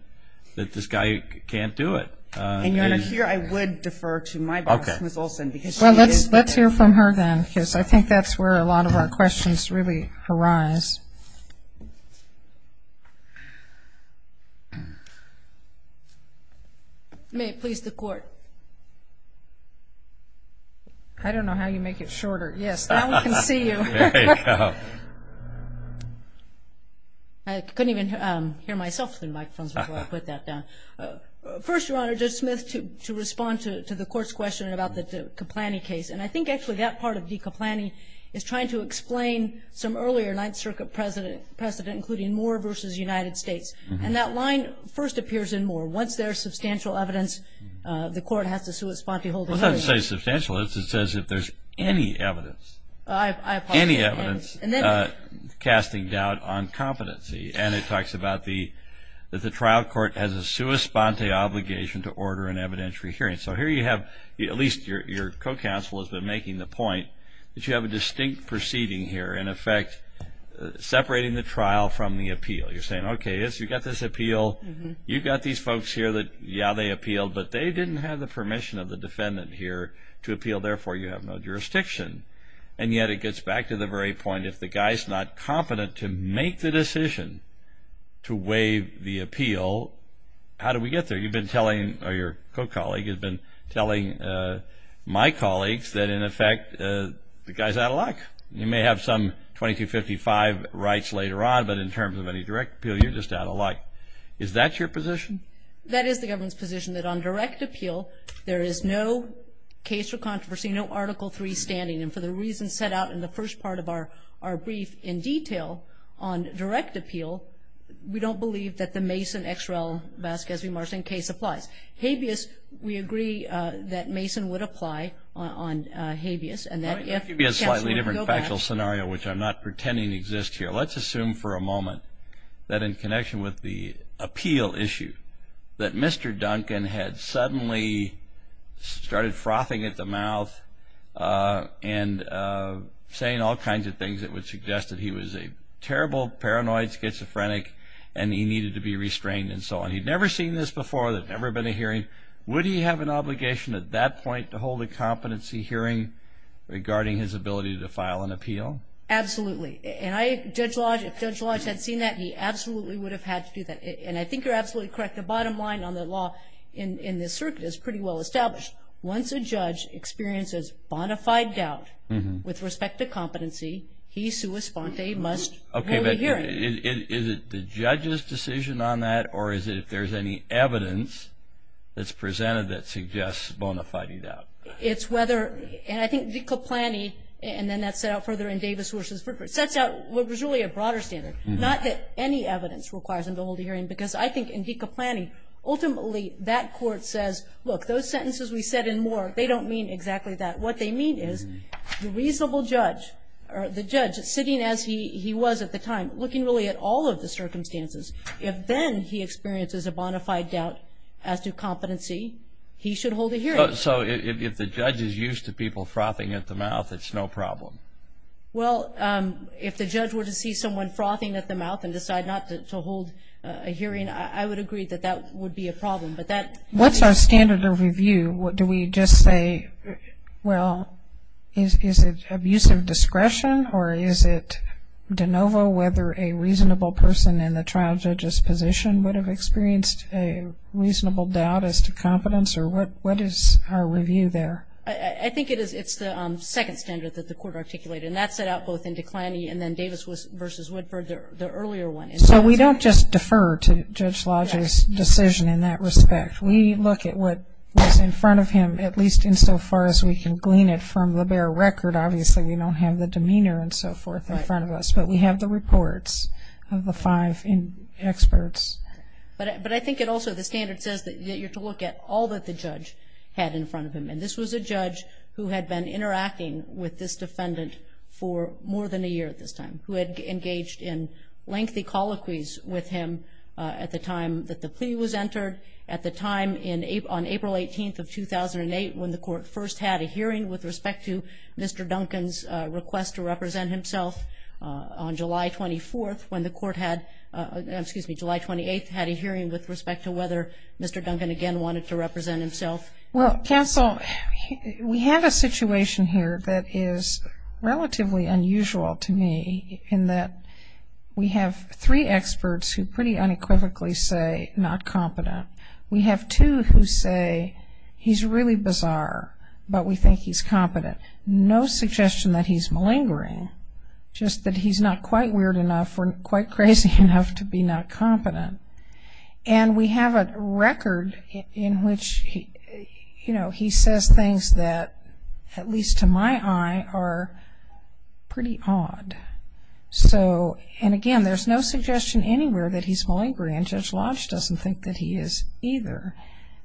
that this guy can't do it. And Your Honor, here I would defer to my colleague, Ms. Olson. Well, let's hear from her, then, because I think that's where a lot of our questions really arise. May it please the Court. I don't know how you make it shorter. Yes, now we can see you. I couldn't even hear myself through the microphone, so I'll put that down. First, Your Honor, Judge Smith, to respond to the Court's question about the Caplani case, and I think actually that part of de Caplani is trying to explain some earlier Ninth Circuit precedent, including Moore v. United States. And that line first appears in Moore. Once there's substantial evidence, the Court has to sui sponte hold a hearing. It doesn't say substantial. It says if there's any evidence, any evidence casting doubt on competency. And it talks about the trial court has a sui sponte obligation to order an evidentiary hearing. So here you have, at least your co-counsel has been making the point, that you have a distinct proceeding here, in effect, separating the trial from the appeal. You're saying, okay, yes, you've got this appeal. You've got these folks here that, yeah, they appealed, but they didn't have the permission of the defendant here to appeal. Therefore, you have no jurisdiction. And yet it gets back to the very point, if the guy's not competent to make the decision to waive the appeal, how do we get there? You've been telling, or your co-colleague has been telling my colleagues, that, in effect, the guy's out of luck. You may have some 2255 rights later on, but in terms of any direct appeal, you're just out of luck. Is that your position? That is the government's position, that on direct appeal, there is no case for controversy, no Article III standing. And for the reasons set out in the first part of our brief, in detail, on direct appeal, we don't believe that the Mason, Exrell, Vasquez, and Marcin case applies. Habeas, we agree that Mason would apply on Habeas. And that, yes, there's no doubt. That would give you a slightly different factual scenario, which I'm not pretending exists here. Let's assume for a moment that in connection with the appeal issue, that Mr. Duncan had suddenly started frothing at the mouth and saying all kinds of things that would suggest that he was a terrible, paranoid schizophrenic and he needed to be restrained and so on. He'd never seen this before. There's never been a hearing. Would he have an obligation at that point to hold a competency hearing regarding his ability to file an appeal? Absolutely. And Judge Lodge, if Judge Lodge had seen that, he absolutely would have had to do that. And I think you're absolutely correct. The bottom line on the law in this circuit is pretty well established. Once a judge experiences bona fide doubt with respect to competency, he, sua sponte, must hold a hearing. Okay. Is it the judge's decision on that, or is it if there's any evidence that's presented that suggests bona fide doubt? It's whether, and I think Deca-Plany, and then that's set out further in Davis-Horst's report, sets out what was really a broader standard, not that any evidence requires him to hold a hearing, because I think in Deca-Plany, ultimately that court says, look, those sentences we said and more, they don't mean exactly that. What they mean is the reasonable judge, or the judge sitting as he was at the time, looking really at all of the circumstances, if then he experiences a bona fide doubt as to competency, he should hold a hearing. So if the judge is used to people frothing at the mouth, it's no problem? Well, if the judge were to see someone frothing at the mouth and decide not to hold a hearing, I would agree that that would be a problem. What's our standard of review? Do we just say, well, is it abuse of discretion, or is it de novo whether a reasonable person in the trial judge's position would have experienced a reasonable doubt as to competence? What is our review there? I think it's the second standard that the court articulated, and that's set out both in Declany and then Davis v. Woodford, the earlier one. So we don't just defer to Judge Wald's decision in that respect. We look at what's in front of him, at least insofar as we can glean it from the bare record. Obviously, we don't have the demeanor and so forth in front of us, but we have the reports of the five experts. But I think it also, the standard says that you have to look at all that the judge had in front of him, and this was a judge who had been interacting with this defendant for more than a year at this time, who had engaged in lengthy colloquies with him at the time that the plea was entered, at the time on April 18th of 2008 when the court first had a hearing with respect to Mr. Duncan's request to represent himself, on July 24th when the court had, excuse me, July 28th had a hearing with respect to whether Mr. Duncan again wanted to represent himself. Well, counsel, we have a situation here that is relatively unusual to me, in that we have three experts who pretty unequivocally say not competent. We have two who say he's really bizarre, but we think he's competent. And we have no suggestion that he's malingering, just that he's not quite weird enough or quite crazy enough to be not competent. And we have a record in which, you know, he says things that, at least to my eye, are pretty odd. So, and again, there's no suggestion anywhere that he's malingering, and Judge Losch doesn't think that he is either.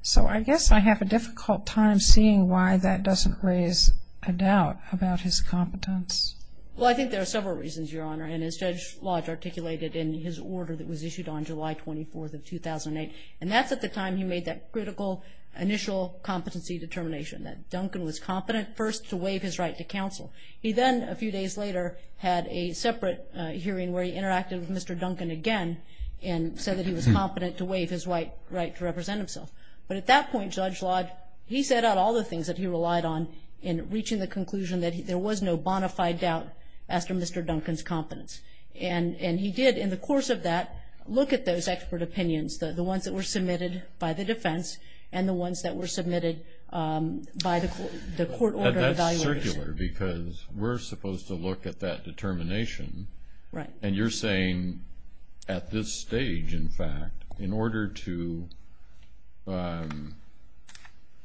So I guess I have a difficult time seeing why that doesn't raise a doubt about his competence. Well, I think there are several reasons, Your Honor. And as Judge Losch articulated in his order that was issued on July 24th of 2008, and that's at the time he made that critical initial competency determination, that Duncan was competent first to waive his right to counsel. He then, a few days later, had a separate hearing where he interacted with Mr. Duncan again and said that he was competent to waive his right to represent himself. But at that point, Judge Losch, he set out all the things that he relied on in reaching the conclusion that there was no bona fide doubt after Mr. Duncan's competence. And he did, in the course of that, look at those expert opinions, the ones that were submitted by the defense and the ones that were submitted by the court order of evaluation. It's circular because we're supposed to look at that determination. And you're saying at this stage, in fact, in order to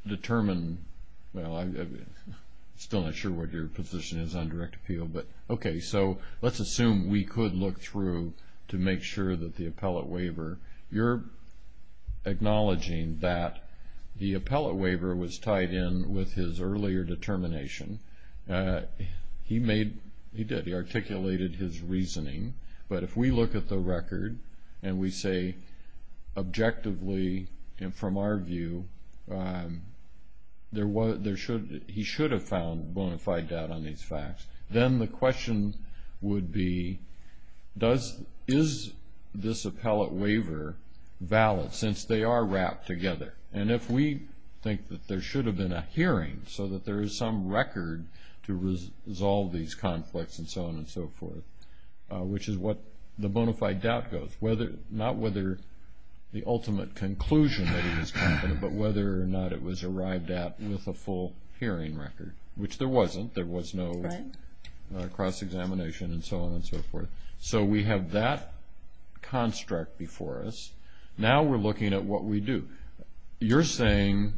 determine – well, I'm still not sure what your position is on direct appeal, but okay. So let's assume we could look through to make sure that the appellate waiver – you're acknowledging that the appellate waiver was tied in with his earlier determination. He made – he did. He articulated his reasoning. But if we look at the record and we say objectively and from our view, he should have found bona fide doubt on these facts, then the question would be does – is this appellate waiver valid since they are wrapped together? And if we think that there should have been a hearing so that there is some record to resolve these conflicts and so on and so forth, which is what the bona fide doubt goes, not whether the ultimate conclusion that he was confident, but whether or not it was arrived at with a full hearing record, which there wasn't. There was no cross-examination and so on and so forth. So we have that construct before us. Now we're looking at what we do. You're saying,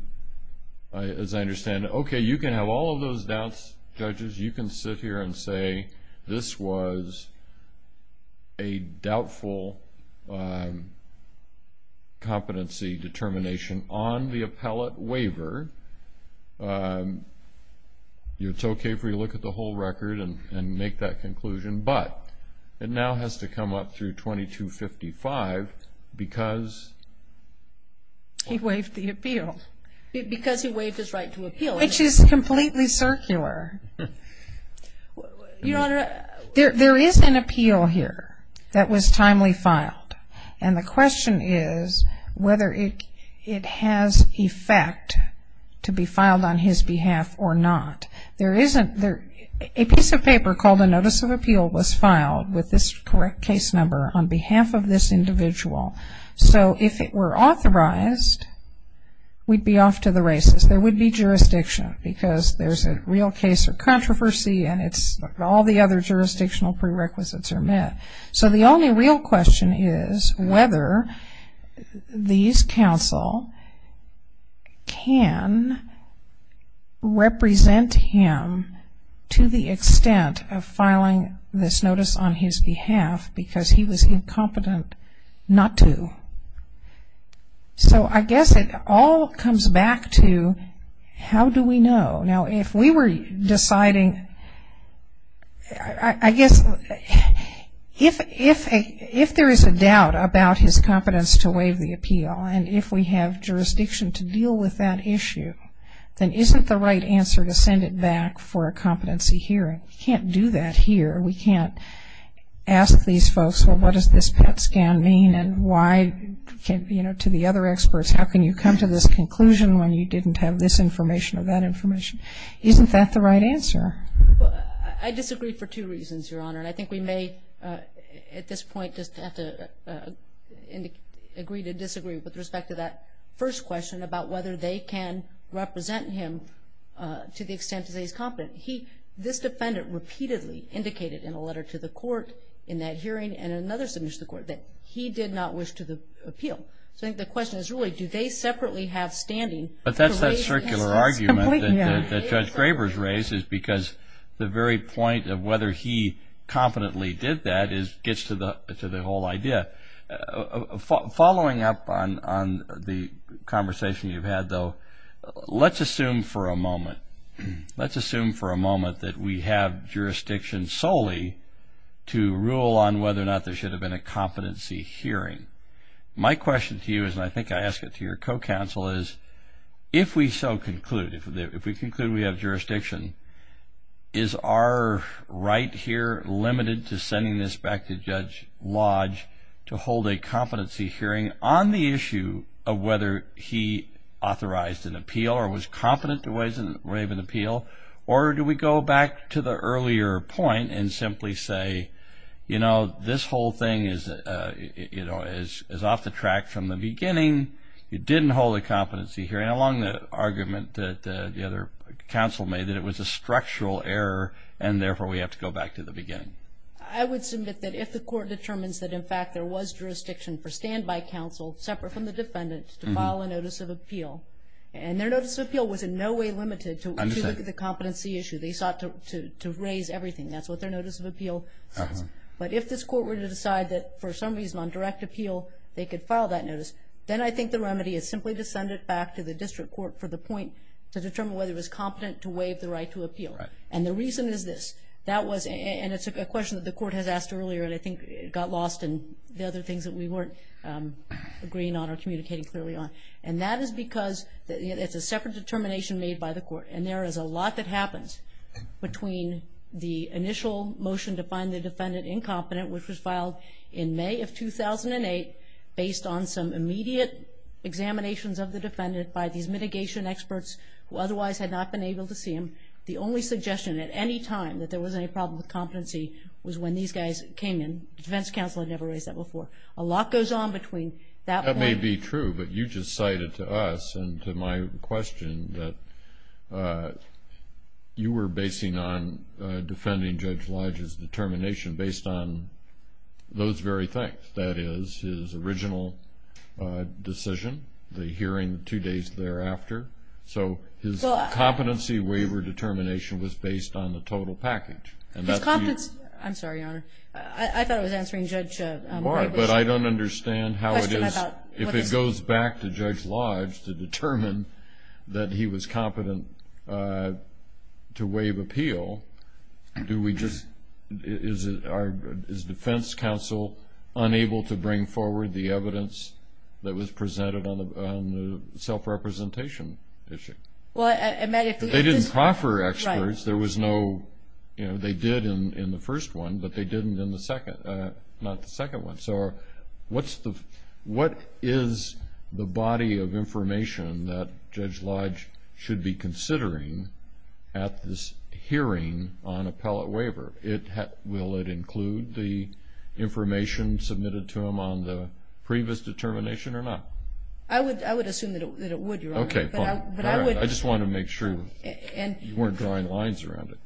as I understand it, okay, you can have all of those doubts, judges. You can sit here and say this was a doubtful competency determination on the appellate waiver. It's okay for you to look at the whole record and make that conclusion. But it now has to come up through 2255 because – He waived the appeal. Because he waived his right to appeal. Which is completely circular. Your Honor, there is an appeal here that was timely filed. And the question is whether it has effect to be filed on his behalf or not. A piece of paper called a notice of appeal was filed with this correct case number on behalf of this individual. So if it were authorized, we'd be off to the races. There would be jurisdiction because there's a real case of controversy and all the other jurisdictional prerequisites are met. So the only real question is whether these counsel can represent him to the extent of filing this notice on his behalf because he was incompetent not to. So I guess it all comes back to how do we know? Now, if we were deciding – I guess if there is a doubt about his competence to waive the appeal and if we have jurisdiction to deal with that issue, then isn't the right answer to send it back for a competency hearing? We can't do that here. We can't ask these folks, well, what does this PET scan mean? You know, to the other experts, how can you come to this conclusion when you didn't have this information or that information? Isn't that the right answer? Well, I disagree for two reasons, Your Honor, and I think we may at this point just have to agree to disagree with respect to that first question about whether they can represent him to the extent that he's competent. This defendant repeatedly indicated in a letter to the court in that hearing and in another submission to the court that he did not wish to appeal. So I think the question is, really, do they separately have standing? But that's that circular argument that Judge Graber's raised is because the very point of whether he competently did that gets to the whole idea. Following up on the conversation you've had, though, let's assume for a moment. Let's assume for a moment that we have jurisdiction solely to rule on whether or not there should have been a competency hearing. My question to you is, and I think I ask it to your co-counsel, is if we so conclude, if we conclude we have jurisdiction, is our right here limited to sending this back to Judge Lodge to hold a competency hearing on the issue of whether he authorized an appeal or was confident there was a way of an appeal? Or do we go back to the earlier point and simply say, you know, this whole thing is off the track from the beginning, it didn't hold a competency hearing, along the argument that the other counsel made that it was a structural error and therefore we have to go back to the beginning? In fact, there was jurisdiction for standby counsel separate from the defendants to file a notice of appeal. And their notice of appeal was in no way limited to the competency issue. They sought to raise everything. That's what their notice of appeal was. But if this court were to decide that for some reason on direct appeal they could file that notice, then I think the remedy is simply to send it back to the district court for the point to determine whether it was competent to waive the right to appeal. And the reason is this. That was a question that the court had asked earlier and I think it got lost in the other things that we weren't agreeing on or communicating clearly on. And that is because it's a separate determination made by the court. And there is a lot that happens between the initial motion to find the defendant incompetent, which was filed in May of 2008 based on some immediate examinations of the defendant by these mitigation experts who otherwise had not been able to see him. The only suggestion at any time that there was any problem with competency was when these guys came in. The defense counsel had never raised that before. A lot goes on between that point. That may be true, but you just cited to us and to my question that you were basing on defending Judge Lodge's determination based on those very things. That is, his original decision, the hearing two days thereafter. So his competency waiver determination was based on the total package. I'm sorry, Your Honor. I thought I was answering Judge Lodge. But I don't understand how it is. If it goes back to Judge Lodge to determine that he was competent to waive appeal, is defense counsel unable to bring forward the evidence that was presented on the self-representation issue? They didn't proffer experts. They did in the first one, but they didn't in the second one. So what is the body of information that Judge Lodge should be considering at this hearing on appellate waiver? Will it include the information submitted to him on the previous determination or not? I would assume that it would, Your Honor. Okay, fine. I just wanted to make sure you weren't drawing lines around it.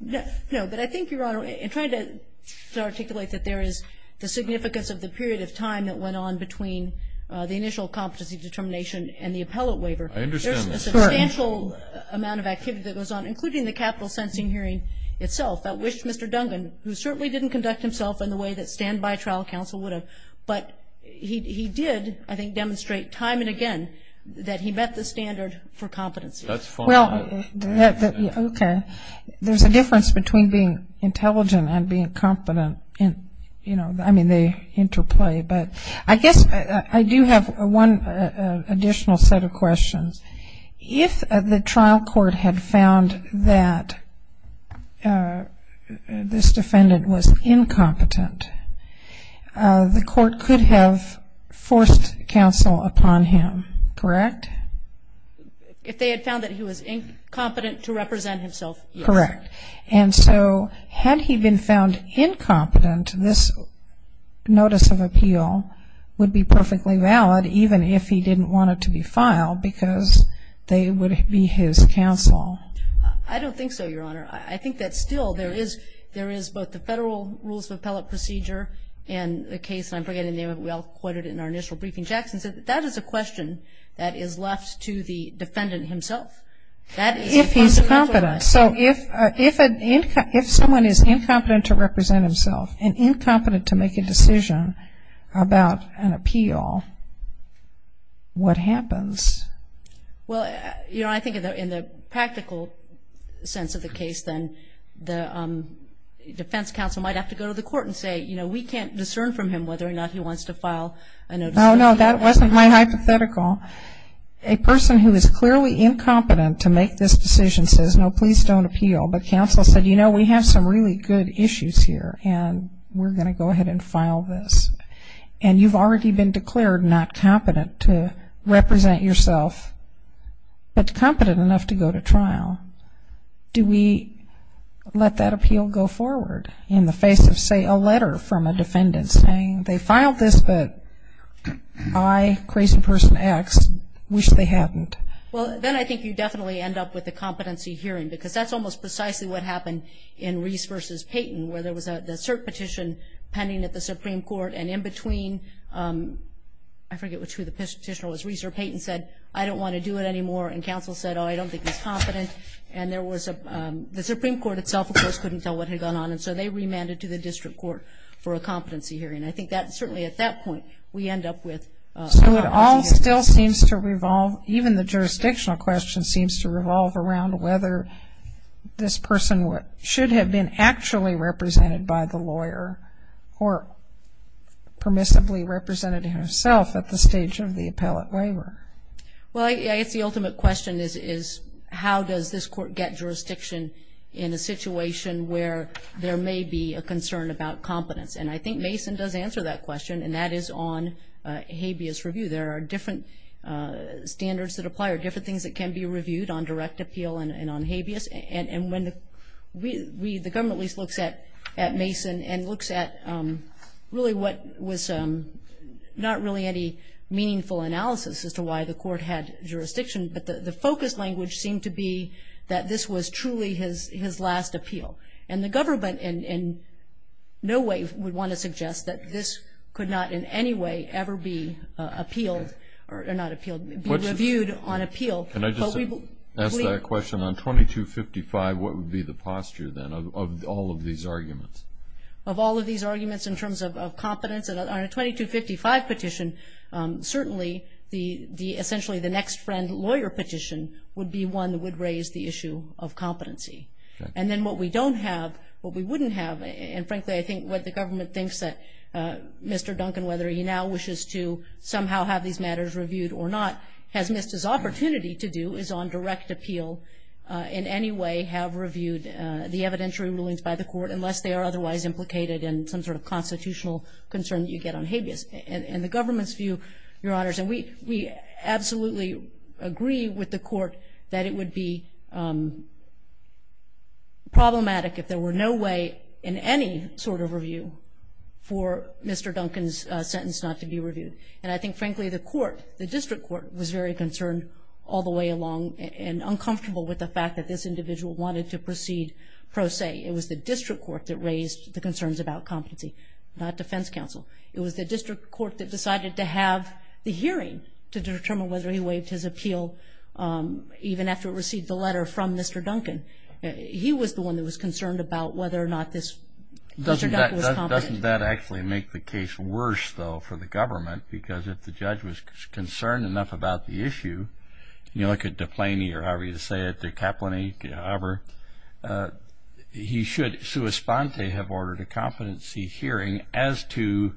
No, but I think, Your Honor, in trying to articulate that there is the significance of the period of time that went on between the initial competency determination and the appellate waiver, there is a substantial amount of activity that goes on, including the capital sentencing hearing itself. I wish Mr. Dungan, who certainly didn't conduct himself in the way that standby trial counsel would have, but he did, I think, demonstrate time and again that he met the standard for competency. That's fine. Okay. There's a difference between being intelligent and being competent. You know, I mean, they interplay. But I guess I do have one additional set of questions. If the trial court had found that this defendant was incompetent, the court could have forced counsel upon him, correct? If they had found that he was incompetent to represent himself. Correct. And so, had he been found incompetent, this notice of appeal would be perfectly valid, even if he didn't want it to be filed, because they would be his counsel. I don't think so, Your Honor. I think that still there is both the federal rules of appellate procedure and the case, and I'm forgetting the name of it. We all quoted it in our initial briefing. Jackson says that is a question that is left to the defendant himself. If he's incompetent, so if someone is incompetent to represent himself and incompetent to make a decision about an appeal, what happens? Well, Your Honor, I think in the practical sense of the case, then the defense counsel might have to go to the court and say, you know, we can't discern from him whether or not he wants to file an appeal. No, no, that wasn't my hypothetical. A person who is clearly incompetent to make this decision says, no, please don't appeal. But counsel said, you know, we have some really good issues here, and we're going to go ahead and file this. And you've already been declared not competent to represent yourself, but competent enough to go to trial. Do we let that appeal go forward in the face of, say, a letter from a defendant saying, they filed this, but I, crazy person X, wish they hadn't? Well, then I think you definitely end up with a competency hearing, because that's almost precisely what happened in Reese v. Payton, where there was a cert petition pending at the Supreme Court, and in between, I forget which petition it was, Reese or Payton said, I don't want to do it anymore, and counsel said, oh, I don't think he's competent. And there was a, the Supreme Court itself, of course, couldn't tell what had gone on, and so they remanded to the district court for a competency hearing. And I think that, certainly at that point, we end up with. So it all still seems to revolve, even the jurisdictional question seems to revolve around whether this person should have been actually represented by the lawyer or permissibly represented himself at the stage of the appellate waiver. Well, I think the ultimate question is, how does this court get jurisdiction in a situation where there may be a concern about competence? And I think Mason does answer that question, and that is on habeas review. There are different standards that apply, or different things that can be reviewed on direct appeal and on habeas. And when we, the government at least looks at Mason and looks at really what was not really any meaningful analysis as to why the court had jurisdiction, but the focus language seemed to be that this was truly his last appeal. And the government in no way would want to suggest that this could not in any way ever be appealed, or not appealed, reviewed on appeal. Can I just ask that question? On 2255, what would be the posture then of all of these arguments? Of all of these arguments in terms of competence? On a 2255 petition, certainly essentially the next friend lawyer petition would be one that would raise the issue of competency. And then what we don't have, what we wouldn't have, and frankly I think what the government thinks that Mr. Duncan, whether he now wishes to somehow have these matters reviewed or not, has missed his opportunity to do, is on direct appeal in any way have reviewed the evidentiary rulings by the court, unless they are otherwise implicated in some sort of constitutional concern that you get on habeas. And the government's view, Your Honors, and we absolutely agree with the court that it would be problematic if there were no way in any sort of review for Mr. Duncan's sentence not to be reviewed. And I think frankly the court, the district court, was very concerned all the way along and uncomfortable with the fact that this individual wanted to proceed pro se. It was the district court that raised the concerns about competency, not defense counsel. It was the district court that decided to have the hearing to determine whether he waived his appeal even after it received the letter from Mr. Duncan. He was the one that was concerned about whether or not this Mr. Duncan was competent. Doesn't that actually make the case worse, though, for the government? Because if the judge was concerned enough about the issue, you look at De Plany or however you say it, de Kaplany, however, he should, sua sponte, have ordered a competency hearing as to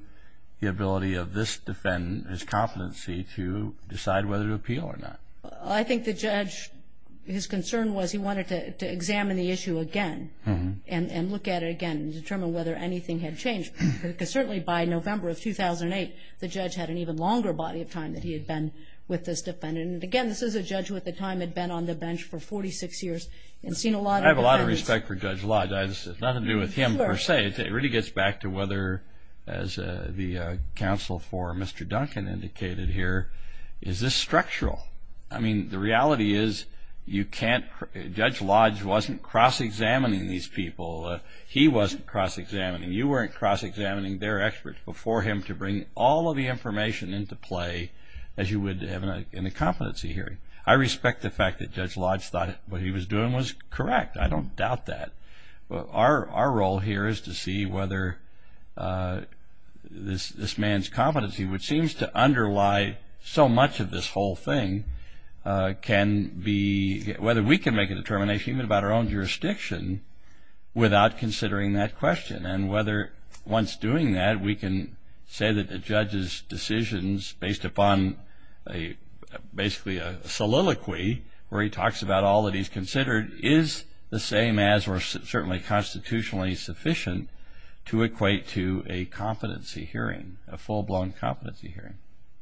the ability of this defendant, his competency, to decide whether to appeal or not. I think the judge, his concern was he wanted to examine the issue again and look at it again and determine whether anything had changed. Because certainly by November of 2008, the judge had an even longer body of time than he had been with this defendant, and again, this is a judge who at the time had been on the bench for 46 years. I have a lot of respect for Judge Lodge. This has nothing to do with him per se. It really gets back to whether, as the counsel for Mr. Duncan indicated here, is this structural? I mean, the reality is Judge Lodge wasn't cross-examining these people. He wasn't cross-examining. You weren't cross-examining their experts before him to bring all of the information into play that you would have in a competency hearing. I respect the fact that Judge Lodge thought what he was doing was correct. I don't doubt that. Our role here is to see whether this man's competency, which seems to underlie so much of this whole thing, can be whether we can make a determination even about our own jurisdiction without considering that question and whether once doing that we can say that the judge's decisions, based upon basically a soliloquy where he talks about all that he's considered, is the same as or certainly constitutionally sufficient to equate to a competency hearing, a full-blown competency hearing.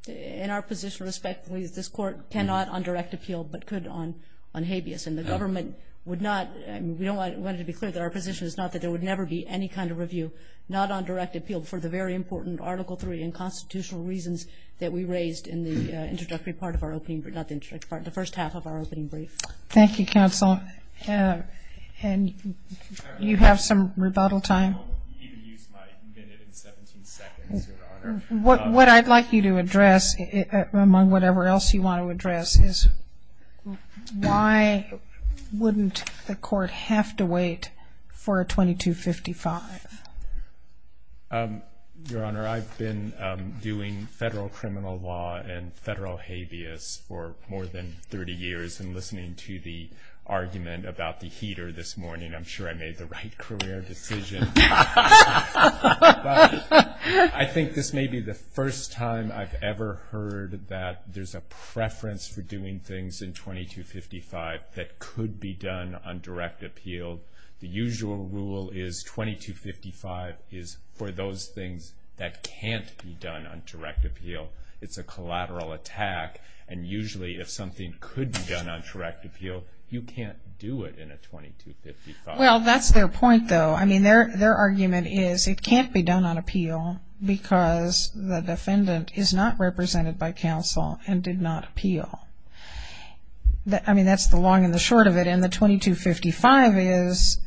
In our position, respectfully, this court cannot undirect appeal but could on habeas, and the government would not. We wanted to be clear that our position is not that there would never be any kind of review, not undirected appeal for the very important Article III and constitutional reasons that we raised in the introductory part of our opening, not the introductory part, the first half of our opening brief. Thank you, counsel. And do you have some rebuttal time? What I'd like you to address, among whatever else you want to address, is why wouldn't the court have to wait for a 2255? Your Honor, I've been doing federal criminal law and federal habeas for more than 30 years, and listening to the argument about the heater this morning, I'm sure I made the right career decision. I think this may be the first time I've ever heard that there's a preference for doing things in 2255 that could be done on direct appeal. The usual rule is 2255 is for those things that can't be done on direct appeal. It's a collateral attack, and usually if something could be done on direct appeal, you can't do it in a 2255. Well, that's their point, though. I mean, their argument is it can't be done on appeal because the defendant is not represented by counsel and did not appeal. I mean, that's the long and the short of it. And the 2255 is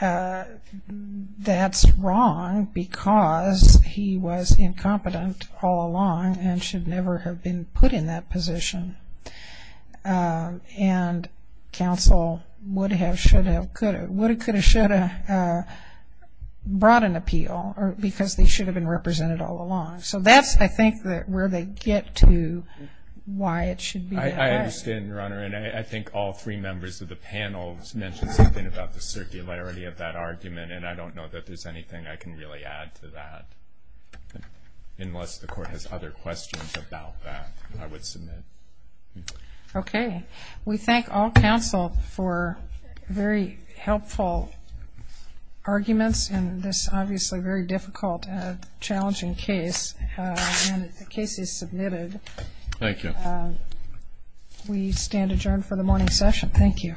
that's wrong because he was incompetent all along and should never have been put in that position. And counsel would have, should have, could have, would have, could have, should have brought an appeal because they should have been represented all along. So that's, I think, where they get to why it should be. I understand, Your Honor, and I think all three members of the panel mentioned something about the circularity of that argument, and I don't know that there's anything I can really add to that. Unless the Court has other questions about that, I would submit. Okay. We thank all counsel for very helpful arguments in this obviously very difficult and challenging case. And the case is submitted. Thank you. We stand adjourned for the morning session. Thank you. All rise.